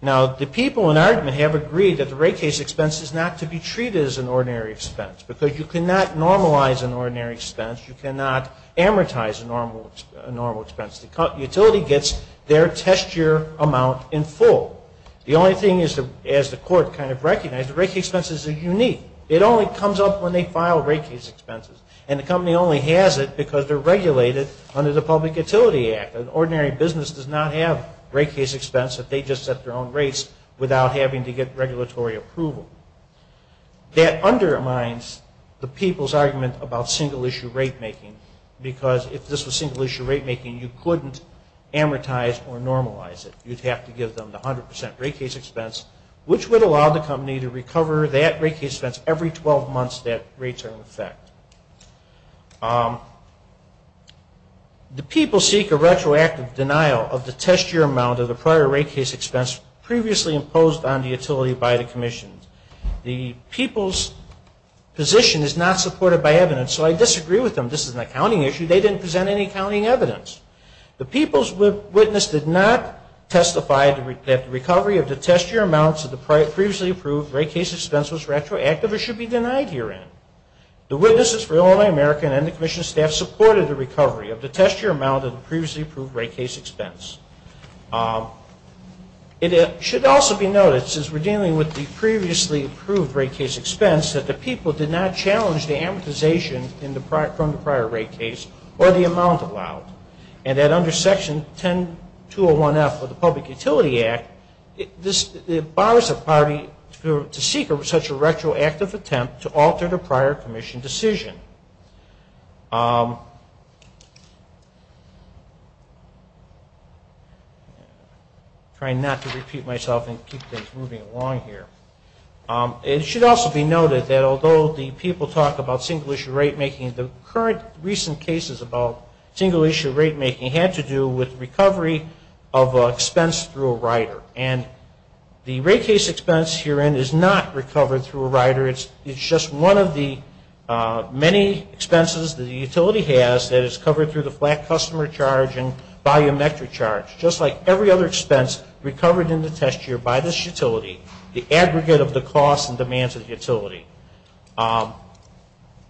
Now, the people in ARDMA have agreed that the rate case expense is not to be treated as an ordinary expense, because you cannot normalize an ordinary expense, you cannot amortize a normal expense. The utility gets their test year amount in full. The only thing is, as the court kind of recognized, the rate case expenses are unique. It only comes up when they file rate case expenses, and the company only has it because they're regulated under the Public Utility Act. An ordinary business does not have rate case expense if they just set their own rates without having to get regulatory approval. That undermines the people's argument about single-issue rate making, because if this was single-issue rate making, you couldn't amortize or normalize it. You'd have to give them the 100% rate case expense, which would allow the company to recover that rate case expense every 12 months that rates are in effect. The people seek a retroactive denial of the test year amount of the prior rate case expense previously imposed on the utility by the commission. The people's position is not supported by evidence, so I disagree with them. This is an accounting issue. They didn't present any accounting evidence. The people's witness did not testify that the recovery of the test year amounts of the previously approved rate case expense was retroactive or should be denied herein. The witnesses for Illinois American and the commission staff supported the recovery of the test year amount of the previously approved rate case expense. It should also be noticed as we're dealing with the previously approved rate case expense that the people did not challenge the amortization from the prior rate case or the amount allowed, and that under Section 10-201F of the Public Utility Act, it bars the party to seek such a retroactive attempt to alter the prior permission decision. I'm trying not to repeat myself and keep things moving along here. It should also be noted that although the people talk about single-issue rate making, the current recent cases about single-issue rate making had to do with recovery of expense through a rider, and the rate case expense herein is not recovered through a rider. It's just one of the many expenses the utility has that is covered through the flat customer charge and volumetric charge, just like every other expense recovered in the test year by this utility, the aggregate of the costs and demands of the utility.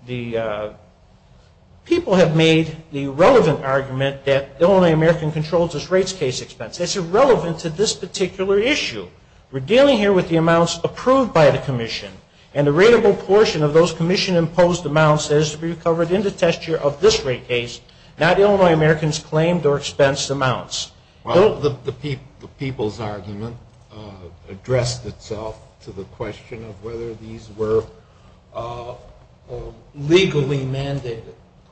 People have made the relevant argument that Illinois American controls its rates case expense. It's irrelevant to this particular issue. We're dealing here with the amounts approved by the Commission, and the rateable portion of those Commission-imposed amounts has to be recovered in the test year of this rate case, not Illinois American's claimed or expensed amounts. Well, the people's argument addressed itself to the question of whether these were legally mandated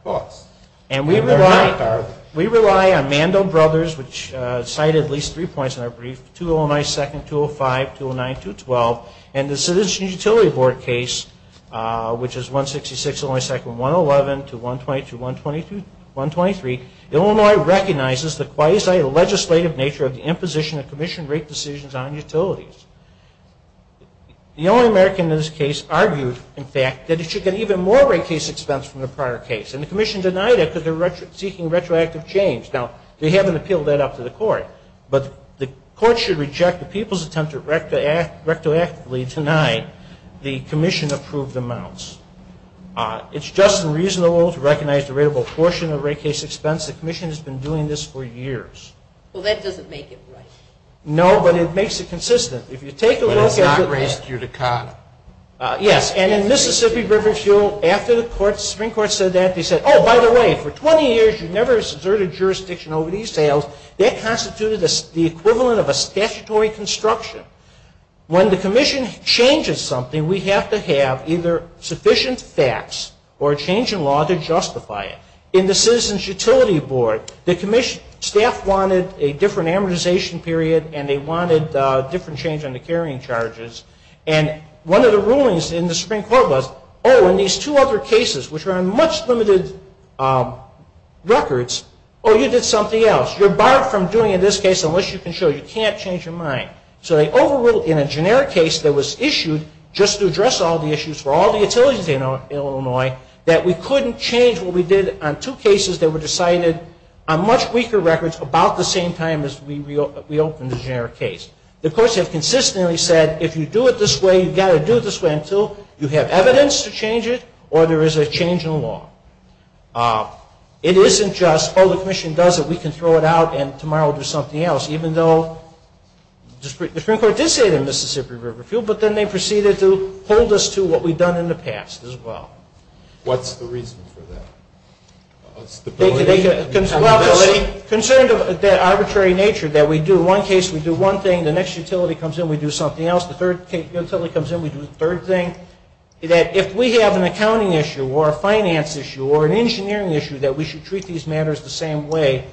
costs. And we rely on Mandel Brothers, which cited at least three points in our brief, 209-2, 205, 209-12, and the Citizen Utility Board case, which is 166-111 to 120-123, Illinois recognizes the quasi-legislative nature of the imposition of Commission rate decisions on utilities. The Illinois American in this case argued, in fact, that it should get even more rate case expense from the prior case, and the Commission denied it because they're seeking retroactive change. Now, they haven't appealed that up to the court, but the court should reject the people's attempt to retroactively deny the Commission-approved amounts. It's just and reasonable to recognize the rateable portion of rate case expense. The Commission has been doing this for years. Well, that doesn't make it right. No, but it makes it consistent. If you take a look at the… Well, it's not raised due to cost. Yes, and in Mississippi River Shield, after the Supreme Court said that, they said, oh, by the way, for 20 years you've never exerted jurisdiction over these sales. That constituted the equivalent of a statutory construction. When the Commission changes something, we have to have either sufficient facts or a change in law to justify it. In the Citizens Utility Board, the Commission staff wanted a different amortization period, and they wanted a different change on the carrying charges. And one of the rulings in the Supreme Court was, oh, in these two other cases, which are on much limited records, oh, you did something else. You're barred from doing it in this case unless you can show. You can't change your mind. So they overruled in a generic case that was issued just to address all the issues for all the utilities in Illinois, that we couldn't change what we did on two cases that were decided on much weaker records about the same time as we reopened the generic case. The courts have consistently said, if you do it this way, you've got to do it this way until you have evidence to change it or there is a change in law. It isn't just, oh, the Commission does it. We can throw it out and tomorrow do something else, even though the Supreme Court did say it in Mississippi Riverview, but then they proceeded to hold us to what we'd done in the past as well. What's the reason for that? Considering the arbitrary nature that we do one case, we do one thing, the next utility comes in, we do something else, the third utility comes in, we do the third thing, if we have an accounting issue or a finance issue or an engineering issue that we should treat these matters the same way,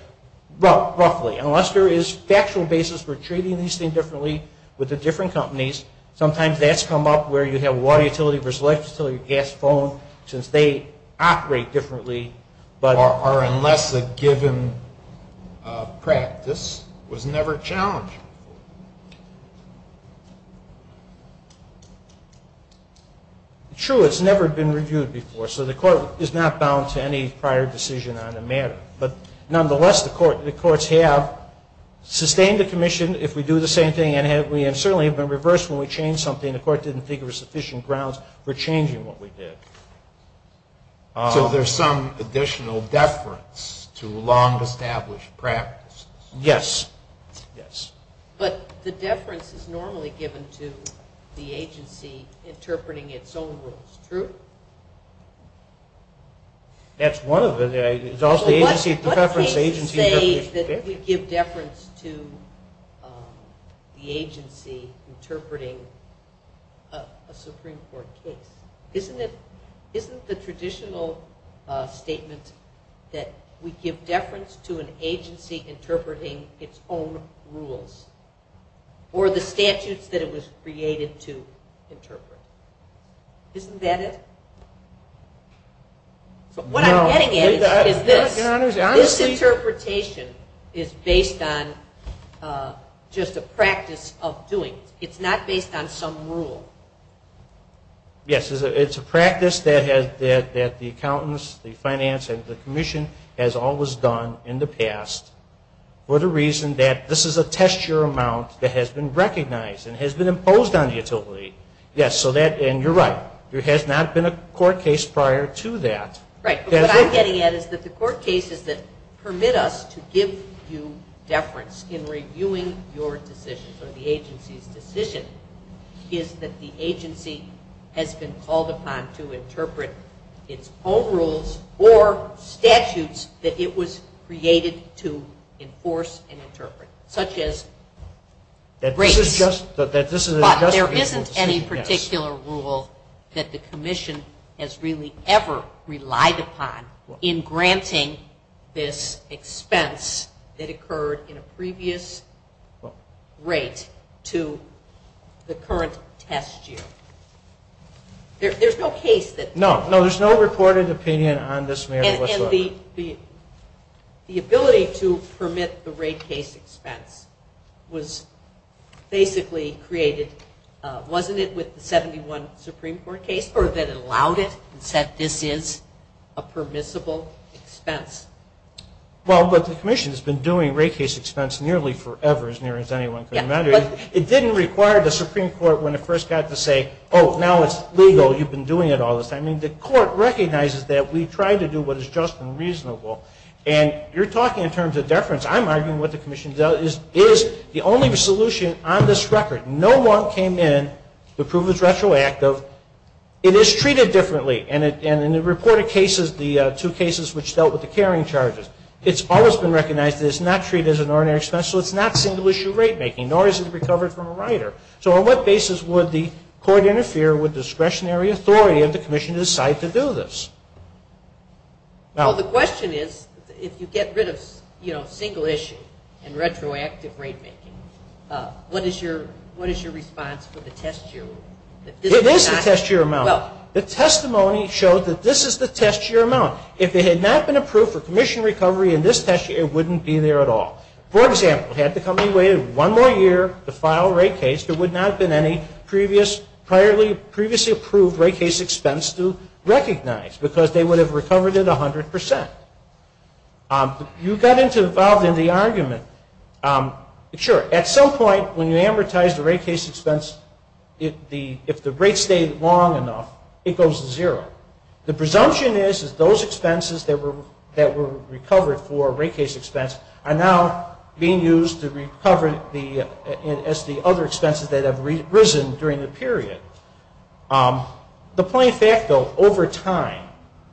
well, roughly, unless there is factual basis for treating these things differently with the different companies, sometimes that's come up where you have a water utility versus a gas utility versus a gas phone, since they operate differently, or unless a given practice was never challenged. True, it's never been reviewed before, so the court is not bound to any prior decision on the matter. Nonetheless, the courts have sustained the Commission if we do the same thing, and certainly have been reversed when we change something and the court didn't figure sufficient grounds for changing what we did. So there's some additional deference to a long established practice. Yes, yes. But the deference is normally given to the agency interpreting its own rules, true? That's one of them. What do you mean to say that we give deference to the agency interpreting a Supreme Court case? Isn't the traditional statement that we give deference to an agency interpreting its own rules, or the statute that it was created to interpret? Isn't that it? No. What I'm getting at is this interpretation is based on just a practice of doing. It's not based on some rule. Yes, it's a practice that the accountants, the finance, and the Commission has always done in the past for the reason that this is a test year amount Yes, and you're right. There has not been a court case prior to that. Right. What I'm getting at is that the court cases that permit us to give you deference in reviewing your decisions or the agency's decisions is that the agency has been called upon to interpret its own rules or statutes that it was created to enforce and interpret, such as breach. But there isn't any particular rule that the Commission has really ever relied upon in granting this expense that occurred in a previous rate to the current test year. There's no case that... No, there's no recorded opinion on this matter whatsoever. And the ability to permit the rate case expense was basically created, wasn't it, with the 71 Supreme Court case? Or is it that it allowed it and said this is a permissible expense? Well, the Commission has been doing rate case expense nearly forever, as near as anyone can imagine. It didn't require the Supreme Court when it first got to say, oh, now it's legal, you've been doing it all this time. I mean, the court recognizes that we've tried to do what is just and reasonable. And you're talking in terms of deference. I'm arguing what the Commission does is the only solution on this record. No one came in to prove it's retroactive. It is treated differently. And in the reported cases, the two cases which dealt with the carrying charges, it's always been recognized that it's not treated as an ordinary expense, so it's not single-issue rate making, nor is it recovered from a rider. So on what basis would the court interfere with discretionary authority if the Commission decided to do this? Well, the question is, if you get rid of single-issue and retroactive rate making, what is your response to the test year rule? It is the test year amount. The testimony showed that this is the test year amount. If it had not been approved for Commission recovery in this test year, it wouldn't be there at all. For example, had the company waited one more year to file a rate case, there would not have been any previously-approved rate case expense to recognize because they would have recovered it 100%. You got involved in the argument. Sure, at some point when you advertise the rate case expense, if the rate stayed long enough, it goes to zero. The presumption is that those expenses that were recovered for a rate case expense are now being used as the other expenses that have risen during the period. The plain fact, though, over time,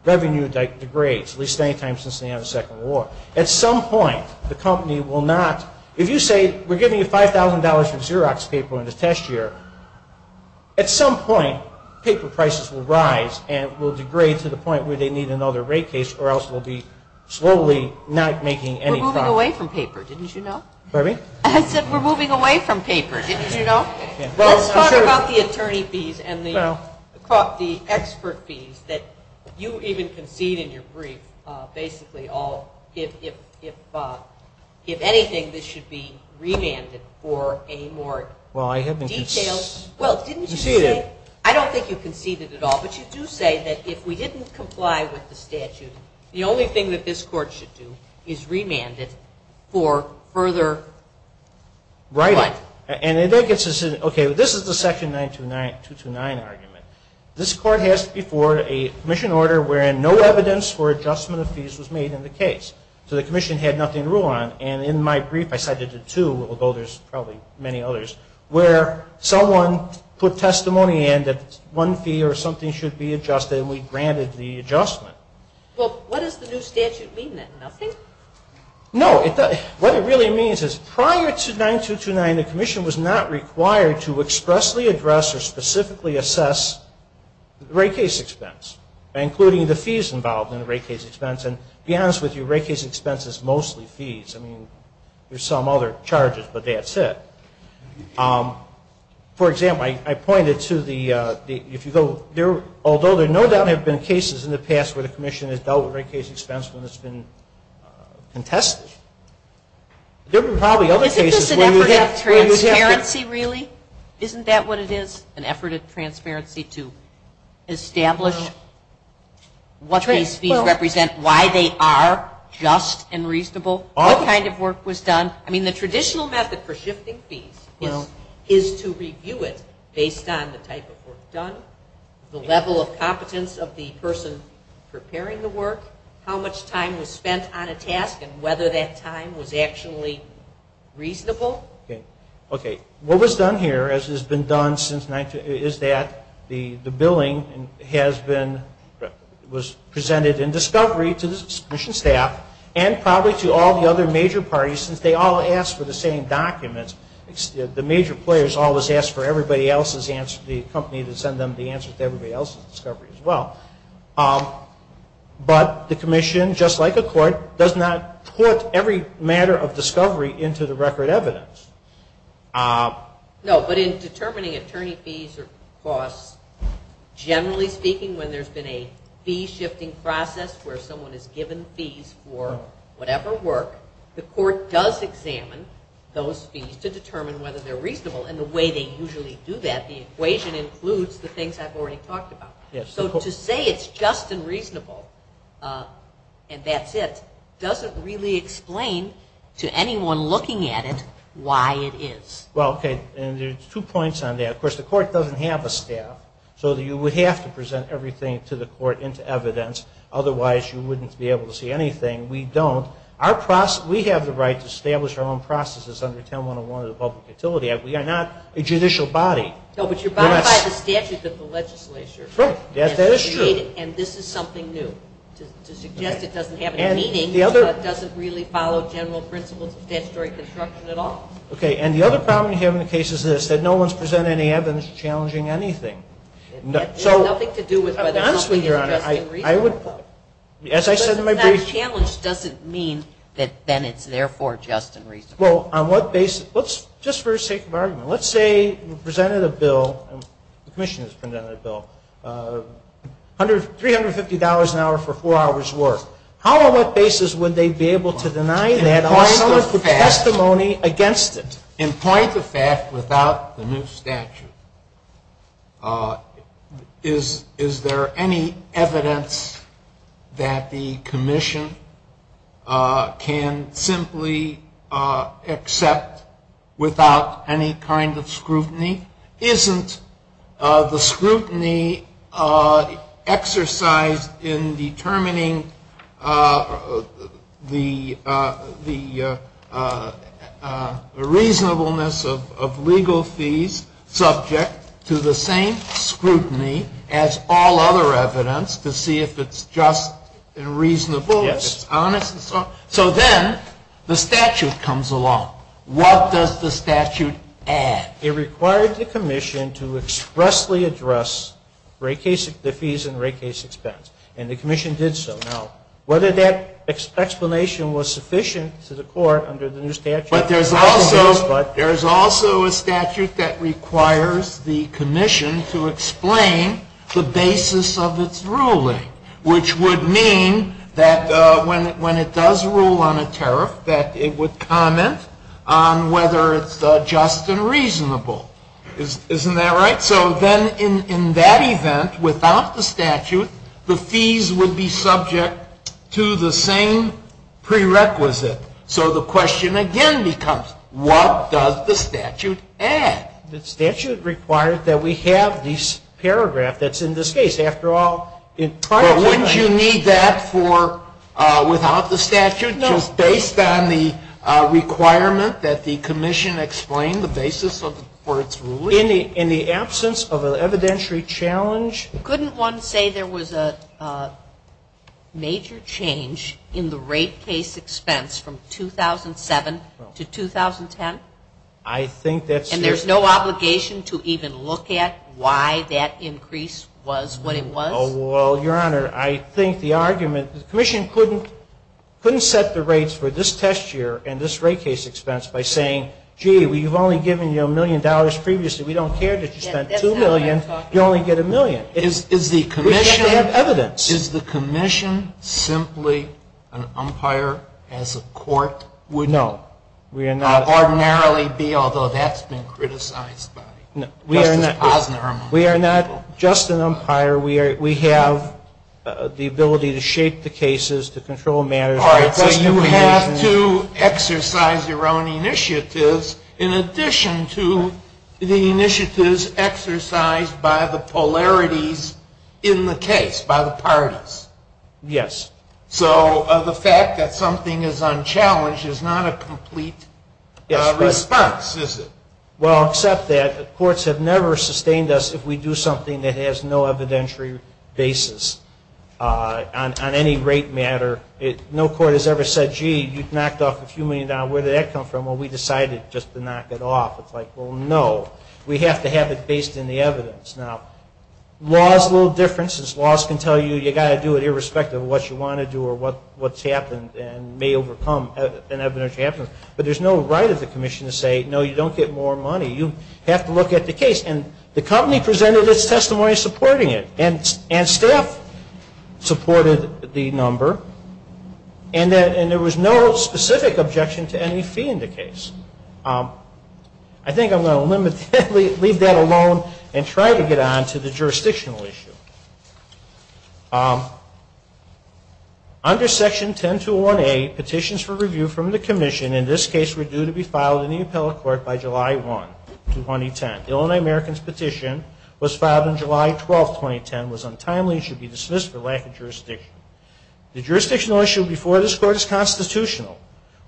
revenue degrades, at least many times since the end of the Second World War. At some point, the company will not... If you say we're giving you $5,000 for Xerox paper in the test year, at some point, paper prices will rise and will degrade to the point where they need another rate case or else we'll be slowly not making any... We're moving away from paper, didn't you know? Pardon me? I said we're moving away from paper, didn't you know? We're talking about the attorney fees and the expert fees that you even concede in your brief basically all... If anything, this should be remanded for any more details. Well, I haven't conceded... Well, didn't you say... I don't think you conceded at all, but you do say that if we didn't comply with the statute, the only thing that this court should do is remand it for further... Right. And it gets... Okay, this is the Section 929 argument. This court has before a commission order wherein no evidence or adjustment of fees was made in the case. So the commission had nothing to rule on. And in my brief, I cited the two, although there's probably many others, where someone put testimony in that one fee or something should be adjusted and we granted the adjustment. Well, what does the new statute mean then? Nothing? No, what it really means is prior to 9229, the commission was not required to expressly address or specifically assess the rate case expense, including the fees involved in the rate case expense. And to be honest with you, rate case expense is mostly fees. I mean, there's some other charges, but that's it. For example, I pointed to the... Although there no doubt have been cases in the past where the commission has dealt with rate case expense when it's been contested, there were probably other cases... It's just an effort of transparency, really? Isn't that what it is? An effort of transparency to establish what these fees represent, why they are just and reasonable, what kind of work was done. I mean, the traditional method for shifting fees is to review it based on the type of work done, the level of competence of the person preparing the work, how much time was spent on a task and whether that time was actually reasonable. Okay. What was done here, as has been done since... is that the billing has been... was presented in discovery to the commission staff and probably to all the other major parties since they all asked for the same documents. The major players always ask for everybody else's answer. The company would send them the answer to everybody else's discovery as well. But the commission, just like a court, does not put every matter of discovery into the record evidence. No, but in determining attorney fees or costs, generally speaking when there's been a fee shifting process where someone has given fees for whatever work, the court does examine those fees to determine whether they're reasonable. And the way they usually do that, the equation includes the things I've already talked about. So to say it's just and reasonable and that's it, doesn't really explain to anyone looking at it why it is. Well, okay, and there's two points on that. Of course, the court doesn't have a staff, so you would have to present everything to the court into evidence, otherwise you wouldn't be able to see anything. We don't. We have the right to establish our own processes under 10-101 of the Public Utility Act. We are not a judicial body. No, but you're bound by the statutes of the legislature. That is true. And this is something new. To suggest it doesn't have any meaning doesn't really follow general principles of statutory construction at all. Okay, and the other problem we have in the case is this, that no one's presented any evidence challenging anything. Honestly, Your Honor, as I said in my brief... But that challenge doesn't mean that then it's therefore just and reasonable. Well, on what basis? Just for the sake of argument, let's say you presented a bill, the commission has presented a bill, $350 an hour for four hours' worth. How and on what basis would they be able to deny that and point the testimony against it? And point the fact without the new statute. Is there any evidence that the commission can simply accept without any kind of scrutiny? Isn't the scrutiny exercised in determining the reasonableness of legal fees subject to the same scrutiny as all other evidence to see if it's just and reasonable? Yes. So then the statute comes along. What does the statute add? It requires the commission to expressly address rate case fees and rate case expense, and the commission did so. Now, whether that explanation was sufficient to the court under the new statute... But there's also a statute that requires the commission to explain the basis of its ruling, which would mean that when it does rule on a tariff, that it would comment on whether it's just and reasonable. Isn't that right? So then in that event, without the statute, the fees would be subject to the same prerequisite. So the question again becomes, what does the statute add? The statute requires that we have this paragraph that's in this case. But wouldn't you need that without the statute? So based on the requirement that the commission explain the basis for its ruling... In the absence of an evidentiary challenge... Couldn't one say there was a major change in the rate case expense from 2007 to 2010? I think that's... And there's no obligation to even look at why that increase was what it was? Well, Your Honor, I think the argument... The commission couldn't set the rates for this test year and this rate case expense by saying, gee, we've only given you a million dollars previously. We don't care that you spent two million. You only get a million. Is the commission... We should have evidence. Is the commission simply an umpire as a court would... No. Ordinarily be, although that's been criticized by... We are not just an umpire. We have the ability to shape the cases, to control marriage... But you have to exercise your own initiatives in addition to the initiatives exercised by the polarities in the case, by the parties. Yes. So the fact that something is unchallenged is not a complete response, is it? Well, except that courts have never sustained us if we do something that has no evidentiary basis on any rate matter. No court has ever said, gee, you've knocked off a few million dollars. Where did that come from? Well, we decided just to knock it off. It's like, well, no. We have to have it based in the evidence. Now, laws will differ. Laws can tell you you've got to do it irrespective of what you want to do or what's happened and may overcome an evidentiary evidence. But there's no right of the commission to say, no, you don't get more money. You have to look at the case. And the company presented its testimony supporting it. And staff supported the number. And there was no specific objection to any fee in the case. I think I'm going to leave that alone and try to get on to the jurisdictional issue. Under Section 1021A, petitions for review from the commission in this case were due to be filed in the appellate court by July 1, 2010. Illinois American's petition was filed on July 12, 2010, was untimely and should be dismissed for lack of jurisdiction. The jurisdictional issue before this court is constitutional.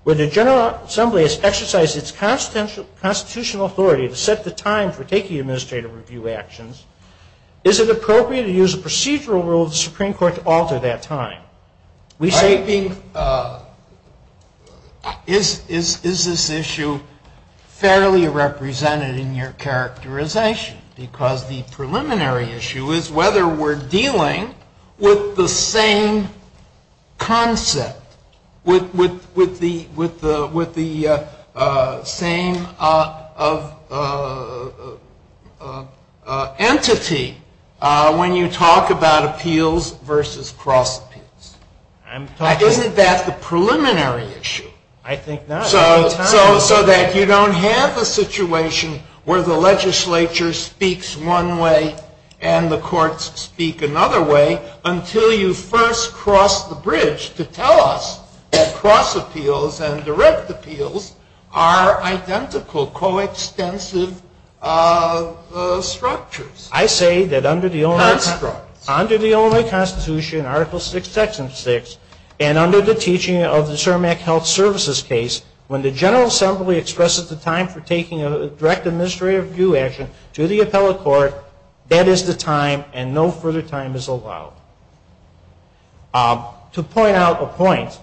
When the General Assembly has exercised its constitutional authority to set the time for taking administrative review actions, is it appropriate to use a procedural rule of the Supreme Court to alter that time? Is this issue fairly represented in your characterization? Because the preliminary issue is whether we're dealing with the same concept, with the same entity when you talk about appeals versus cross-appeals. Isn't that the preliminary issue? I think not. So that you don't have a situation where the legislature speaks one way and the courts speak another way until you first cross the bridge to tell us that cross-appeals and direct appeals are identical, coextensive structures. I say that under the Illinois Constitution, Article VI, Section 6, and under the teaching of the CERMAC Health Services case, when the General Assembly expresses the time for taking a direct administrative review action to the appellate court, that is the time and no further time is allowed. To point out a point,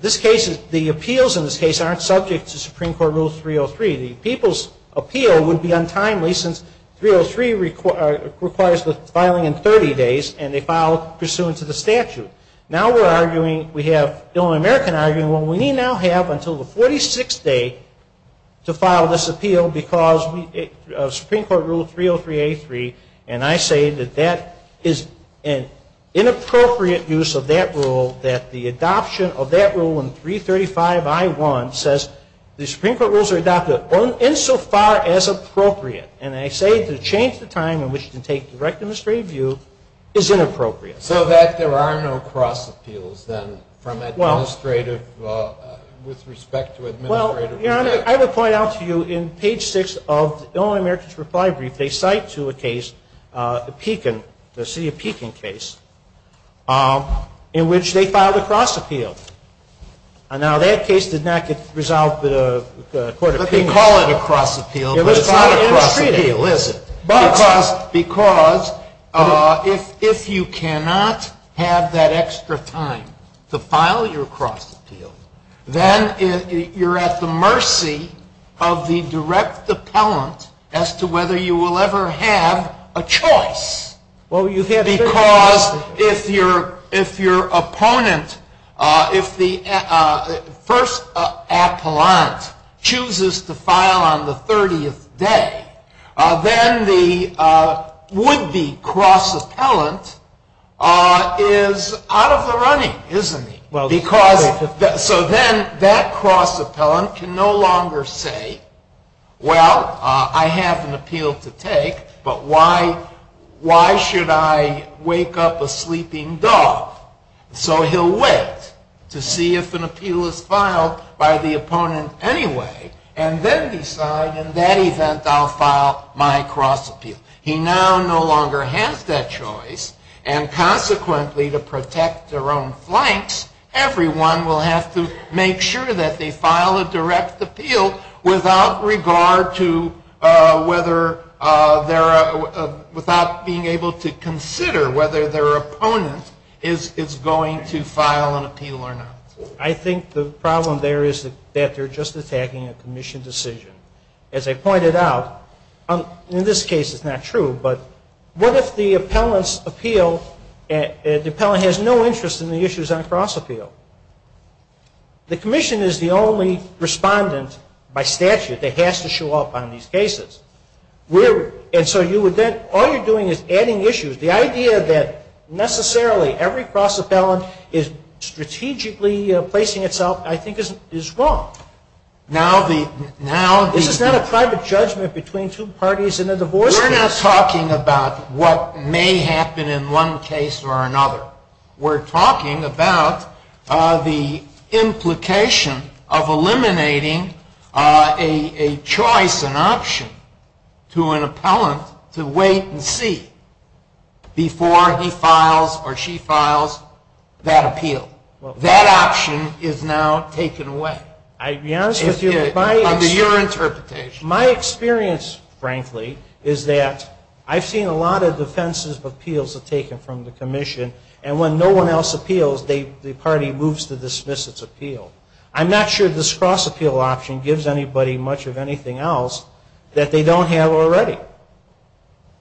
the appeals in this case aren't subject to Supreme Court Rule 303. The people's appeal would be untimely since 303 requires the filing in 30 days, and they file pursuant to the statute. Now we're arguing, we have the Illinois American arguing, well, we may not have until the 46th day to file this appeal because of Supreme Court Rule 303A3, and I say that that is an inappropriate use of that rule, that the adoption of that rule in 335I1 says the Supreme Court rules are adopted insofar as appropriate, and I say to change the time in which to take direct administrative review is inappropriate. So that there are no cross-appeals, then, with respect to administrative review? You know, I would point out to you, in page 6 of the Illinois American's refinery, they cite to a case, the Pekin, the city of Pekin case, in which they filed a cross-appeal. Now that case did not resolve the court of appeals. But they call it a cross-appeal. It was not a cross-appeal, is it? Because if you cannot have that extra time to file your cross-appeal, then you're at the mercy of the direct appellant as to whether you will ever have a choice. Because if your opponent, if the first appellant chooses to file on the 30th day, then the would-be cross-appellant is out of the running, isn't he? So then that cross-appellant can no longer say, well, I have an appeal to take, but why should I wake up a sleeping dog? So he'll wait to see if an appeal is filed by the opponent anyway, and then decide, in that event, I'll file my cross-appeal. He now no longer has that choice. And consequently, to protect their own flanks, everyone will have to make sure that they file a direct appeal without being able to consider whether their opponent is going to file an appeal or not. I think the problem there is that they're just attacking a commission decision. As I pointed out, in this case it's not true, but what if the appellant has no interest in the issues on cross-appeal? The commission is the only respondent by statute that has to show up on these cases. And so all you're doing is adding issues. The idea that necessarily every cross-appellant is strategically placing itself, I think, is wrong. This is not a private judgment between two parties in a divorce case. We're not talking about what may happen in one case or another. We're talking about the implication of eliminating a choice, an option, to an appellant to wait and see before he files or she files that appeal. That option is now taken away under your interpretation. My experience, frankly, is that I've seen a lot of defensive appeals taken from the commission, and when no one else appeals, the party moves to dismiss its appeal. I'm not sure this cross-appeal option gives anybody much of anything else that they don't have already.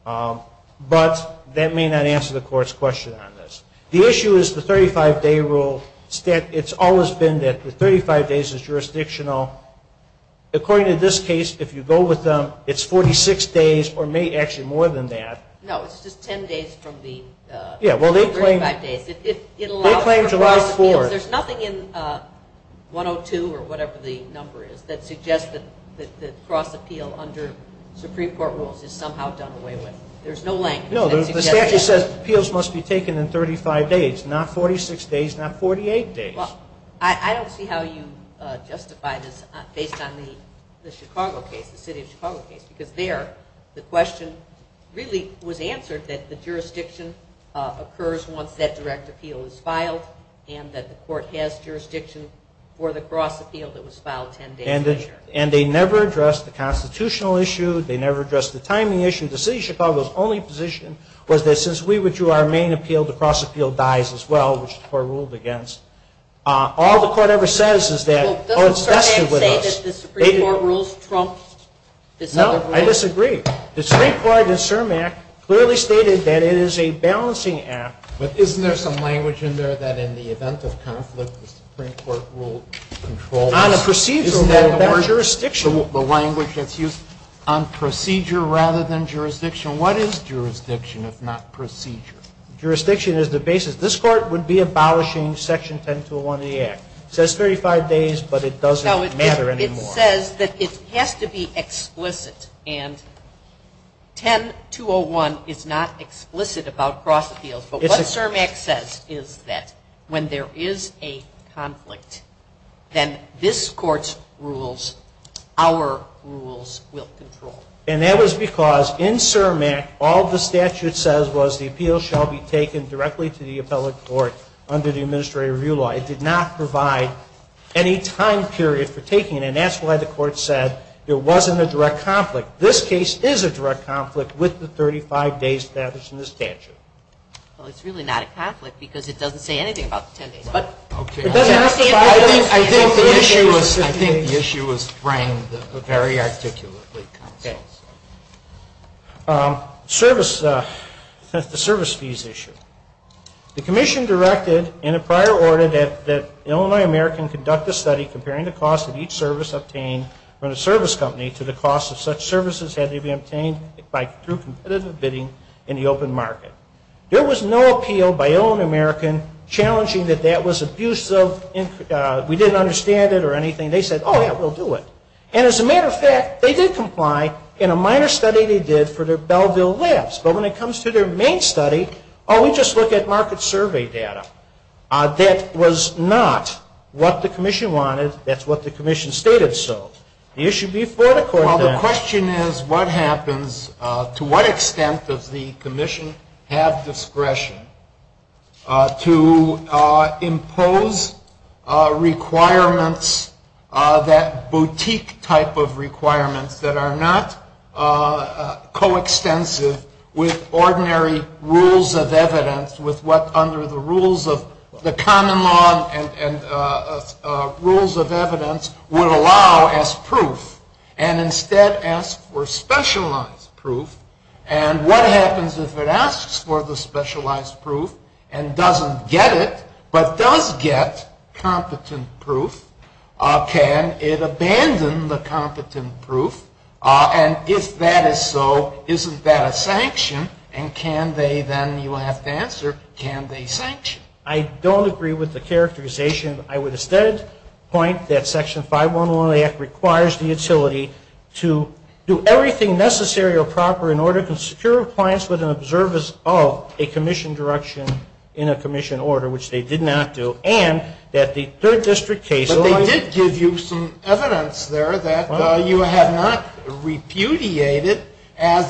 But that may not answer the court's question on this. The issue is the 35-day rule. It's always been that the 35 days is jurisdictional. According to this case, if you go with them, it's 46 days or may be actually more than that. No, it's just 10 days from the 35 days. They claim July 4th. There's nothing in 102 or whatever the number is that suggests that cross-appeal under Supreme Court rules is somehow done away with. There's no language. No, the statute says appeals must be taken in 35 days, not 46 days, not 48 days. I don't see how you justify this based on the Chicago case, the city of Chicago case, because there the question really was answered that the jurisdiction occurs once that direct appeal is filed and that the court has jurisdiction for the cross-appeal that was filed. And they never addressed the constitutional issue. They never addressed the timing issue. The city of Chicago's only position was that since we withdrew our main appeal, the cross-appeal dies as well, which the court ruled against. All the court ever says is that the court's vested with us. Well, doesn't the Supreme Court say that the Supreme Court rules trump the Supreme Court rules? No, I disagree. The Supreme Court in CERM Act clearly stated that it is a balancing act. But isn't there some language in there that in the event of conflict, the Supreme Court rules control? Isn't there better jurisdiction? The language that's used on procedure rather than jurisdiction. What is jurisdiction if not procedure? Jurisdiction is the basis. This court would be abolishing Section 10201 of the Act. It says 35 days, but it doesn't matter anymore. It says that it has to be explicit, and 10201 is not explicit about cross-appeals. But what CERM Act says is that when there is a conflict, then this court's rules, our rules, will control. And that was because in CERM Act, all the statute says was the appeal shall be taken directly to the appellate court under the Administrative Review Law. It did not provide any time period for taking it, and that's why the court said it wasn't a direct conflict. Now, this case is a direct conflict with the 35 days established in the statute. Well, it's really not a conflict because it doesn't say anything about the 10 days. Okay. I think the issue was framed very articulately. Okay. Service, the service fees issue. The commission directed in a prior order that Illinois American conduct a study comparing the cost of each service obtained from the service company to the cost of such services had they been obtained by competitive bidding in the open market. There was no appeal by Illinois American challenging that that was abusive. We didn't understand it or anything. They said, oh, yeah, we'll do it. And as a matter of fact, they did comply in a minor study they did for their Belleville labs. But when it comes to their main study, oh, we just look at market survey data. That was not what the commission wanted. That's what the commission stated. So the issue before the court then. Well, the question is what happens, to what extent does the commission have discretion to impose requirements, that boutique type of requirement that are not coextensive with ordinary rules of evidence, with what under the rules of the common law and rules of evidence would allow as proof, and instead ask for specialized proof? And what happens if it asks for the specialized proof and doesn't get it, but does get competent proof? Can it abandon the competent proof? And if that is so, isn't that a sanction? And can they then, you have to answer, can they sanction? I don't agree with the characterization. I would instead point that Section 511 requires the utility to do everything necessary or proper in order to secure compliance with an observance of a commission direction in a commission order, which they did not do, and that the third district case- It did give you some evidence there that you have not repudiated in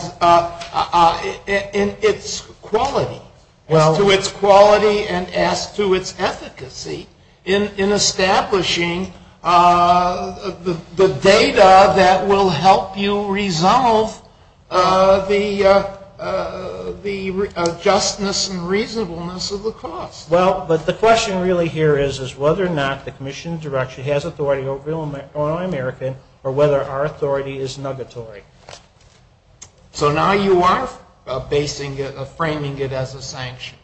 its quality, to its quality and to its efficacy in establishing the data that will help you resolve the justness and reasonableness of the cost. Well, but the question really here is whether or not the commission direction has authority over all Americans or whether our authority is negatory. So now you are basing it, framing it as a sanction.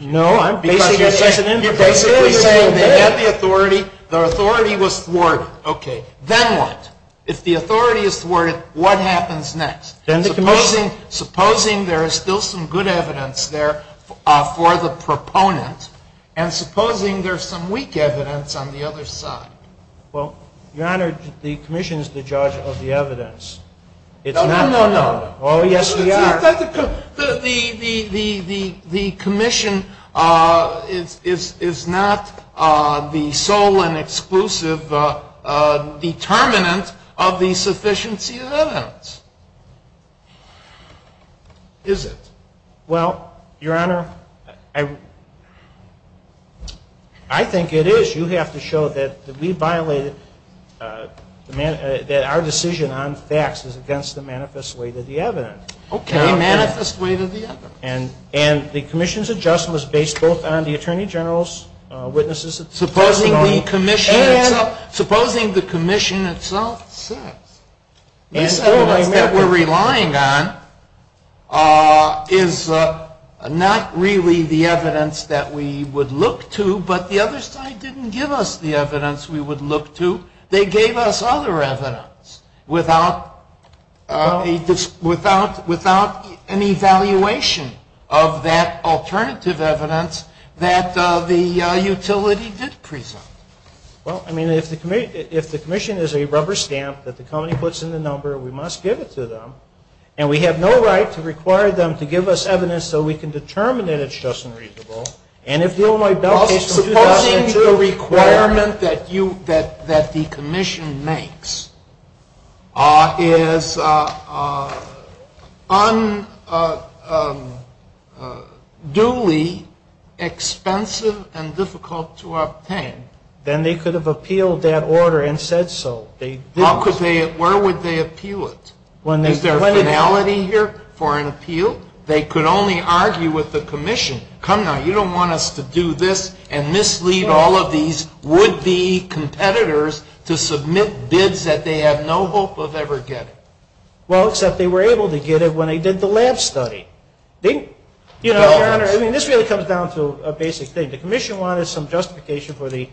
No, I'm basing it- You're basing it against the authority. The authority was thwarted. Okay. Then what? If the authority is thwarted, what happens next? Supposing there is still some good evidence there for the proponent, and supposing there is some weak evidence on the other side. Well, Your Honor, the commission is the judge of the evidence. No, no, no. Oh, yes, we are. The commission is not the sole and exclusive determinant of the sufficiency of evidence, is it? Well, Your Honor, I think it is. You have to show that we violated- that our decision on facts is against the manifest weight of the evidence. Okay. Manifest weight of the evidence. And the commission's adjustment was based both on the attorney general's witnesses- Supposing the commission itself said- They didn't give us the evidence we would look to. They gave us other evidence without an evaluation of that alternative evidence that the utility did present. Well, I mean, if the commission is a rubber stamp that the county puts in the number, we must give it to them. And we have no right to require them to give us evidence so we can determine that it's just and reasonable. Well, supposing the requirement that the commission makes is unduly expensive and difficult to obtain. Then they could have appealed that order and said so. Where would they appeal it? Is there a finality here for an appeal? They could only argue with the commission. Come now, you don't want us to do this and mislead all of these would-be competitors to submit bids that they have no hope of ever getting. Well, except they were able to get it when they did the lab study. You know, Your Honor, I mean, this really comes down to a basic thing. The commission wanted some justification for the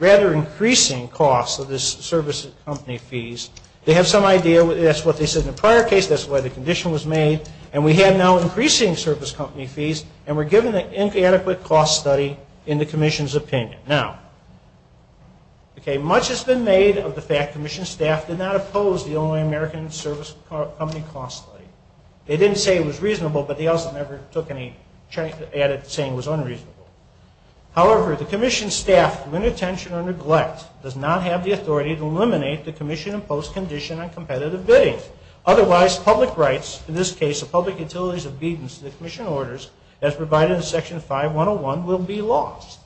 rather increasing cost of this service of company fees. They had some idea. That's what they said in the prior case. That's why the condition was made. And we had now increasing service company fees and were given an inadequate cost study in the commission's opinion. Now, okay, much has been made of the fact commission staff did not oppose the Illinois American Service Company cost study. They didn't say it was reasonable, but they also never took any chance to add it saying it was unreasonable. However, the commission staff, with no intention of neglect, does not have the authority to eliminate the commission-imposed condition on competitive bids. Otherwise, public rights, in this case the public utility's obedience to the commission orders, as provided in Section 5-101, will be lost.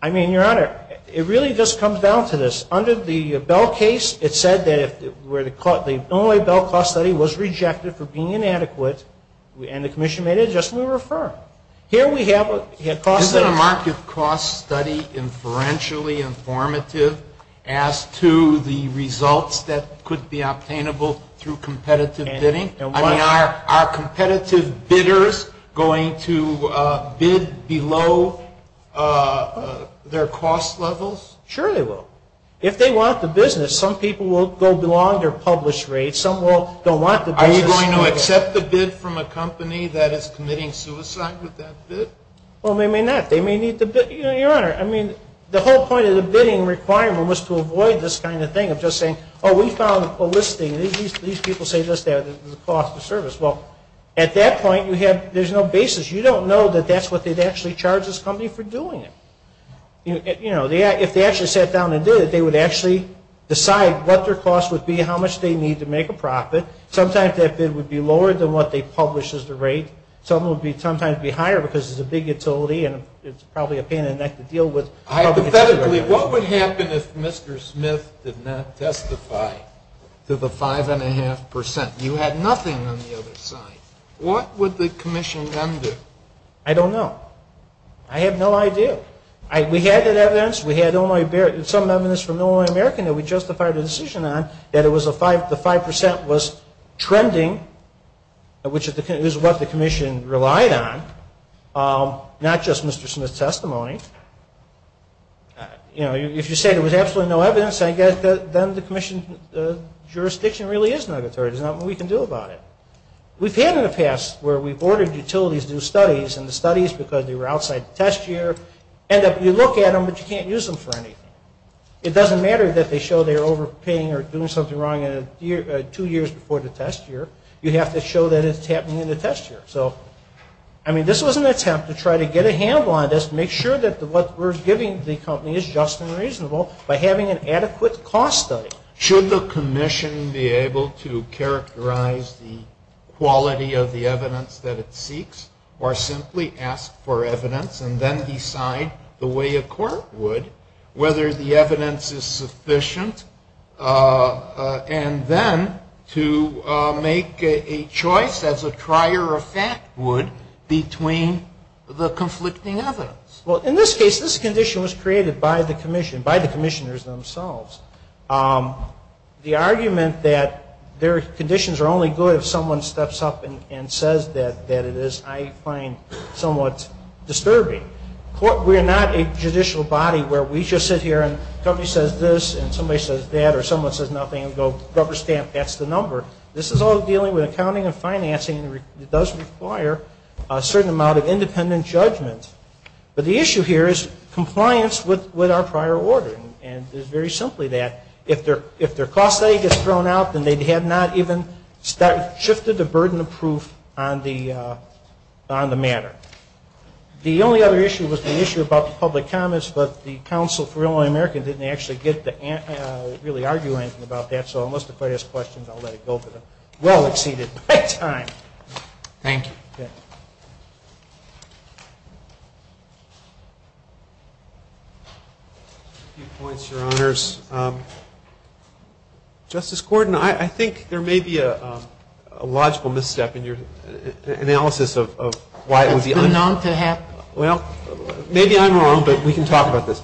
I mean, Your Honor, it really just comes down to this. Under the Bell case, it said that the Illinois Bell cost study was rejected for being inadequate, and the commission made an adjustment to refer. Isn't a market cost study inferentially informative as to the results that could be obtainable through competitive bidding? I mean, are competitive bidders going to bid below their cost levels? Sure they will. If they want the business, some people will go below their publish rate. Are you going to accept the bid from a company that is committing suicide with that bid? Well, they may not. They may need the bid. You know, Your Honor, I mean, the whole point of the bidding requirement was to avoid this kind of thing of just saying, oh, we found a listing. These people say just that, the cost of service. Well, at that point, there's no basis. You don't know that that's what they'd actually charge this company for doing it. If they actually sat down and did it, they would actually decide what their cost would be, how much they need to make a profit. Sometimes their bid would be lower than what they published as the rate. Sometimes it would be higher because it's a big utility and it's probably a pain in the neck to deal with. Hypothetically, what would happen if Mr. Smith did not testify to the 5.5%? You had nothing on the other side. What would the commission then do? I don't know. I have no idea. We had that evidence. We had some evidence from Illinois American that we justified the decision on that the 5% was trending, which is what the commission relied on, not just Mr. Smith's testimony. You know, if you say there was absolutely no evidence, I guess then the commission jurisdiction really is not authoritative. There's nothing we can do about it. We've had in the past where we've ordered utilities to do studies, and the studies, because they were outside the test year, and if you look at them, you can't use them for anything. It doesn't matter that they show they're overpaying or doing something wrong two years before the test year. You have to show that it's happening in the test year. So, I mean, this was an attempt to try to get a handle on this, make sure that what we're giving the company is just and reasonable by having an adequate cost study. So, should the commission be able to characterize the quality of the evidence that it seeks, or simply ask for evidence and then decide the way a court would, whether the evidence is sufficient, and then to make a choice as a trier of fact would between the conflicting evidence? Well, in this case, this condition was created by the commission, by the commissioners themselves. The argument that their conditions are only good if someone steps up and says that it is, I find somewhat disturbing. We're not a judicial body where we just sit here and somebody says this, and somebody says that, or someone says nothing, and we go rubber stamp, that's the number. This is all dealing with accounting and financing, and it does require a certain amount of independent judgment. But the issue here is compliance with our prior order, and it's very simply that. If their cost study gets thrown out, then they have not even shifted the burden of proof on the matter. The only other issue was the issue about the public comments, but the Council for Illinois Americans didn't actually get to really argue anything about that, so unless the court has questions, I'll let it go, but it well exceeded its time. Thank you. A few points, Your Honors. Justice Gordon, I think there may be a logical misstep in your analysis of why it would be unfair. Well, maybe I'm wrong, but we can talk about this.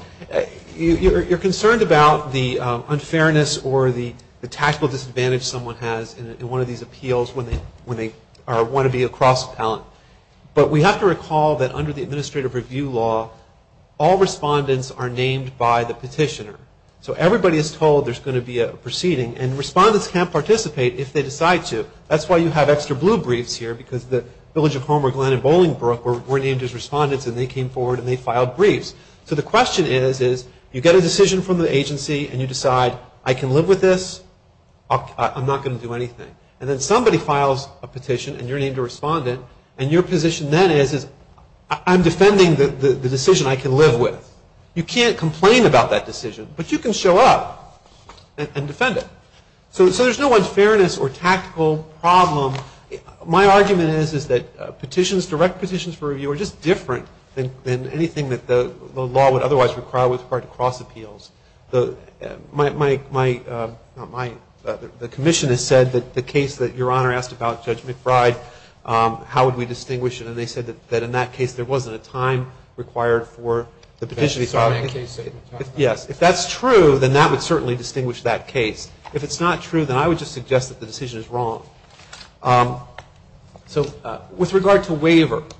You're concerned about the unfairness or the taxable disadvantage someone has in one of these appeals when they want to be a cross-talent. But we have to recall that under the Administrative Review Law, all respondents are named by the petitioner. So everybody is told there's going to be a proceeding, and respondents can't participate if they decide to. That's why you have extra blue briefs here, because the Village of Homer, Glenn, and Bolingbroke were named as respondents, and they came forward and they filed briefs. So the question is, you get a decision from the agency, and you decide, I can live with this, I'm not going to do anything. And then somebody files a petition, and you're named a respondent, and your position then is, I'm defending the decision I can live with. You can't complain about that decision, but you can show up and defend it. So there's no unfairness or taxable problem. My argument is that direct petitions for review are just different than anything that the law would otherwise require with regard to cross-appeals. The commission has said that the case that Your Honor asked about, Judge McBride, how would we distinguish it? And they said that in that case there wasn't a time required for the petition to be filed. Yes, if that's true, then that would certainly distinguish that case. If it's not true, then I would just suggest that the decision is wrong. So with regard to waivers,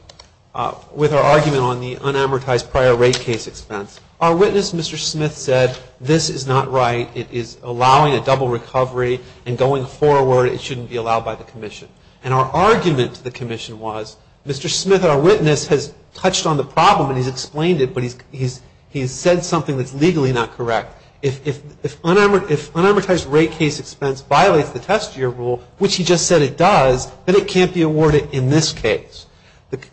with our argument on the unamortized prior rate case expense, our witness, Mr. Smith, said this is not right. It is allowing a double recovery, and going forward it shouldn't be allowed by the commission. And our argument to the commission was, Mr. Smith, our witness, has touched on the problem and he's explained it, but he's said something that's legally not correct. If unamortized rate case expense violates the test year rule, which he just said it does, then it can't be awarded in this case.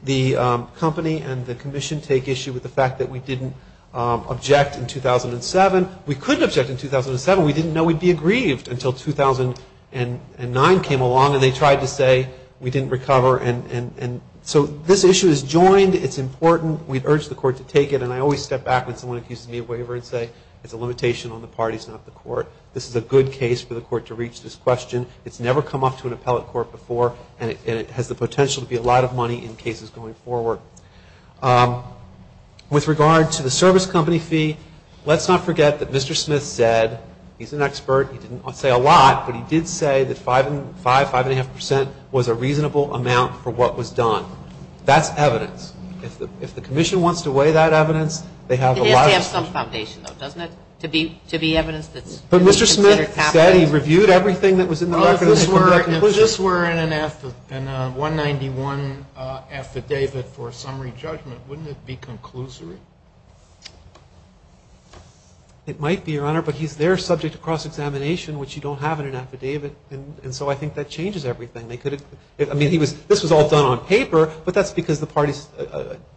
The company and the commission take issue with the fact that we didn't object in 2007. We could object in 2007. We didn't know we'd be aggrieved until 2009 came along and they tried to say we didn't recover. And so this issue is joined. It's important. We urge the court to take it, and I always step back when someone accuses me of waiver and say it's a limitation on the parties in the court. This is a good case for the court to reach this question. It's never come up to an appellate court before, and it has the potential to be a lot of money in cases going forward. With regard to the service company fee, let's not forget that Mr. Smith said, he's an expert, he didn't say a lot, but he did say that 5, 5.5% was a reasonable amount for what was done. That's evidence. If the commission wants to weigh that evidence, they have a lot of evidence. It has some foundation, though, doesn't it, to be evidence that it's happened. But Mr. Smith said he reviewed everything that was in the record. If this were in a 191 affidavit or summary judgment, wouldn't it be conclusive? It might be, Your Honor, but they're subject to cross-examination, which you don't have in an affidavit, and so I think that changes everything. I mean, this was all done on paper, but that's because the parties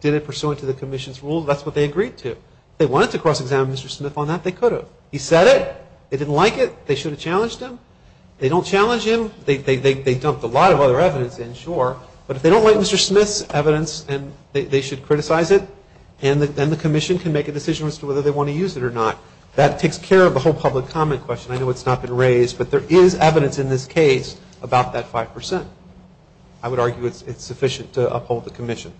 did it pursuant to the commission's rules. That's what they agreed to. If they wanted to cross-examine Mr. Smith on that, they could have. He said it. They didn't like it. They should have challenged him. They don't challenge him. They dumped a lot of other evidence in, sure. But if they don't like Mr. Smith's evidence and they should criticize it, then the commission can make a decision as to whether they want to use it or not. That takes care of the whole public comment question. I know it's not been raised, but there is evidence in this case about that 5%. I would argue it's sufficient to uphold the commission.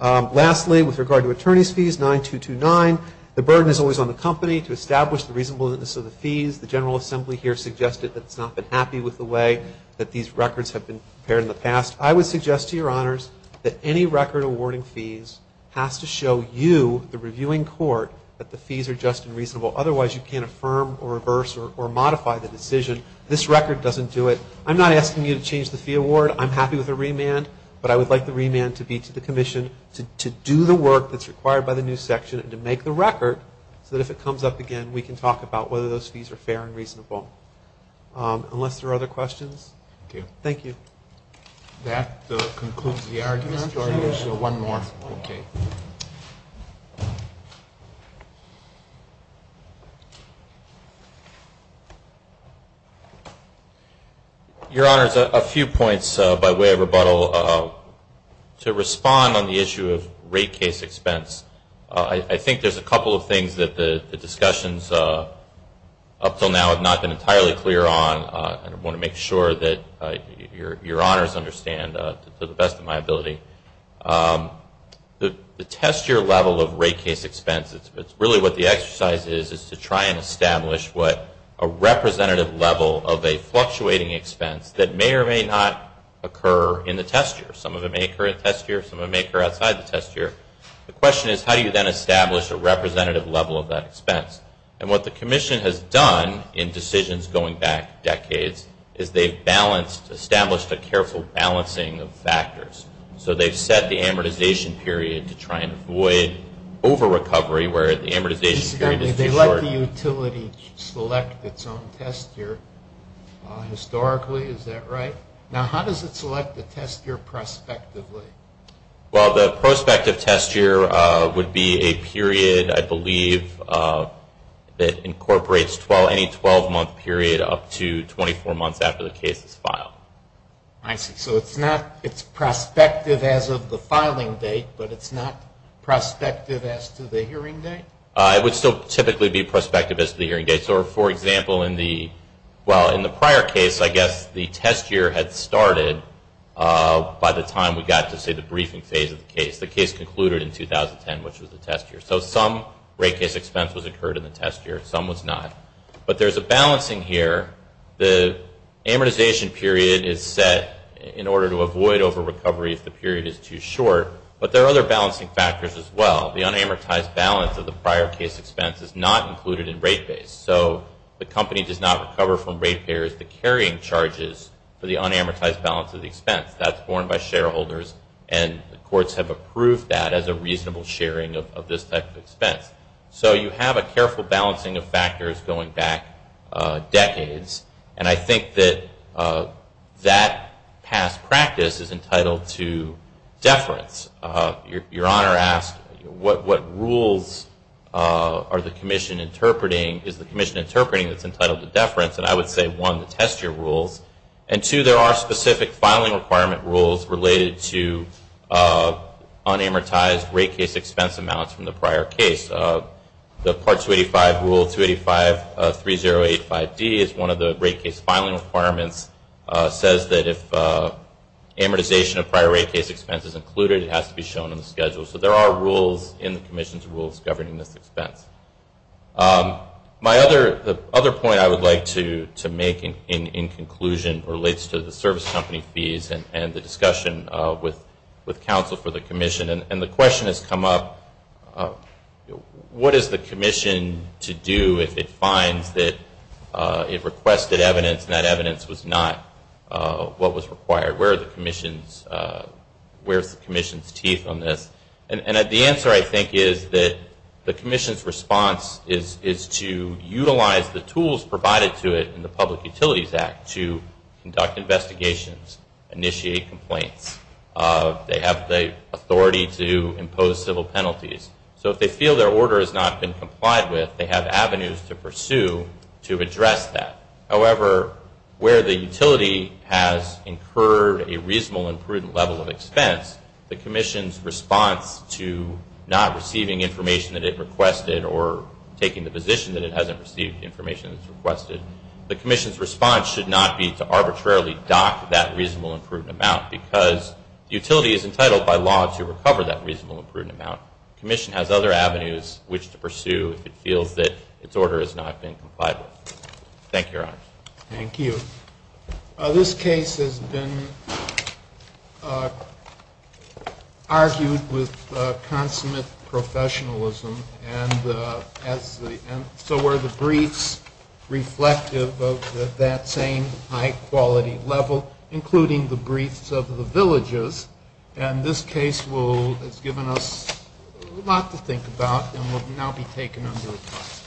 Lastly, with regard to attorney's fees, 9229, the burden is always on the company to establish the reasonableness of the fees. The General Assembly here suggested that it's not been happy with the way that these records have been prepared in the past. I would suggest to Your Honors that any record awarding fees has to show you, the reviewing court, that the fees are just and reasonable. Otherwise, you can't affirm or reverse or modify the decision. This record doesn't do it. I'm not asking you to change the fee award. I'm happy with the remand, but I would like the remand to be to the commission to do the work that's required by the new section and to make the record so that if it comes up again, we can talk about whether those fees are fair and reasonable. Unless there are other questions? Thank you. That concludes the argument. I have one more. Okay. Your Honors, a few points by way of rebuttal. To respond on the issue of rate case expense, I think there's a couple of things that the discussions up until now have not been entirely clear on. I want to make sure that Your Honors understand to the best of my ability. The test year level of rate case expense, it's really what the exercise is, is to try and establish what a representative level of a fluctuating expense that may or may not occur in the test year. Some of it may occur in the test year. Some of it may occur outside the test year. The question is, how do you then establish a representative level of that expense? What the Commission has done in decisions going back decades is they've established a careful balancing of factors. They've set the amortization period to try and avoid over-recovery, whereas the amortization period... They let the utility select its own test year. Historically, is that right? Now, how does it select the test year prospectively? Well, the prospective test year would be a period, I believe, that incorporates any 12-month period up to 24 months after the case is filed. I see. So it's prospective as of the filing date, but it's not prospective as to the hearing date? It would still typically be prospective as to the hearing date. So, for example, in the prior case, I guess the test year had started by the time we got to, say, the briefing phase of the case. The case concluded in 2010, which was the test year. So some rate case expense was occurred in the test year. Some was not. But there's a balancing here. The amortization period is set in order to avoid over-recovery if the period is too short, but there are other balancing factors as well. The unamortized balance of the prior case expense is not included in rate base. So the company does not recover from rate bearers the carrying charges for the unamortized balance of the expense. That's formed by shareholders, and the courts have approved that as a reasonable sharing of this type of expense. So you have a careful balancing of factors going back decades, and I think that that past practice is entitled to deference. Your Honor asked what rules are the commission interpreting? The commission interpreting has been titled to deference, and I would say, one, the test year rules, and two, there are specific filing requirement rules related to unamortized rate case expense amounts from the prior case. The Part 285 Rule 2853085D is one of the rate case filing requirements. It says that if amortization of prior rate case expense is included, it has to be shown in the schedule. So there are rules in the commission's rules governing this expense. The other point I would like to make in conclusion relates to the service company fees and the discussion with counsel for the commission, and the question has come up, what is the commission to do if it finds that it requested evidence and that evidence was not what was required? Where are the commission's teeth on this? And the answer, I think, is that the commission's response is to utilize the tools provided to it in the Public Utilities Act to conduct investigations, initiate complaints. They have the authority to impose civil penalties. So if they feel their order has not been complied with, they have avenues to pursue to address that. However, where the utility has incurred a reasonable and prudent level of expense, the commission's response to not receiving information that it requested or taking the position that it hasn't received the information that it requested, the commission's response should not be to arbitrarily dock that reasonable and prudent amount because the utility is entitled by law to recover that reasonable and prudent amount. The commission has other avenues which to pursue if it feels that its order has not been complied with. Thank you, Your Honor. Thank you. This case has been argued with consummate professionalism, and so were the briefs reflective of that same high-quality level, including the briefs of the villagers. And this case has given us a lot to think about and will now be taken into account.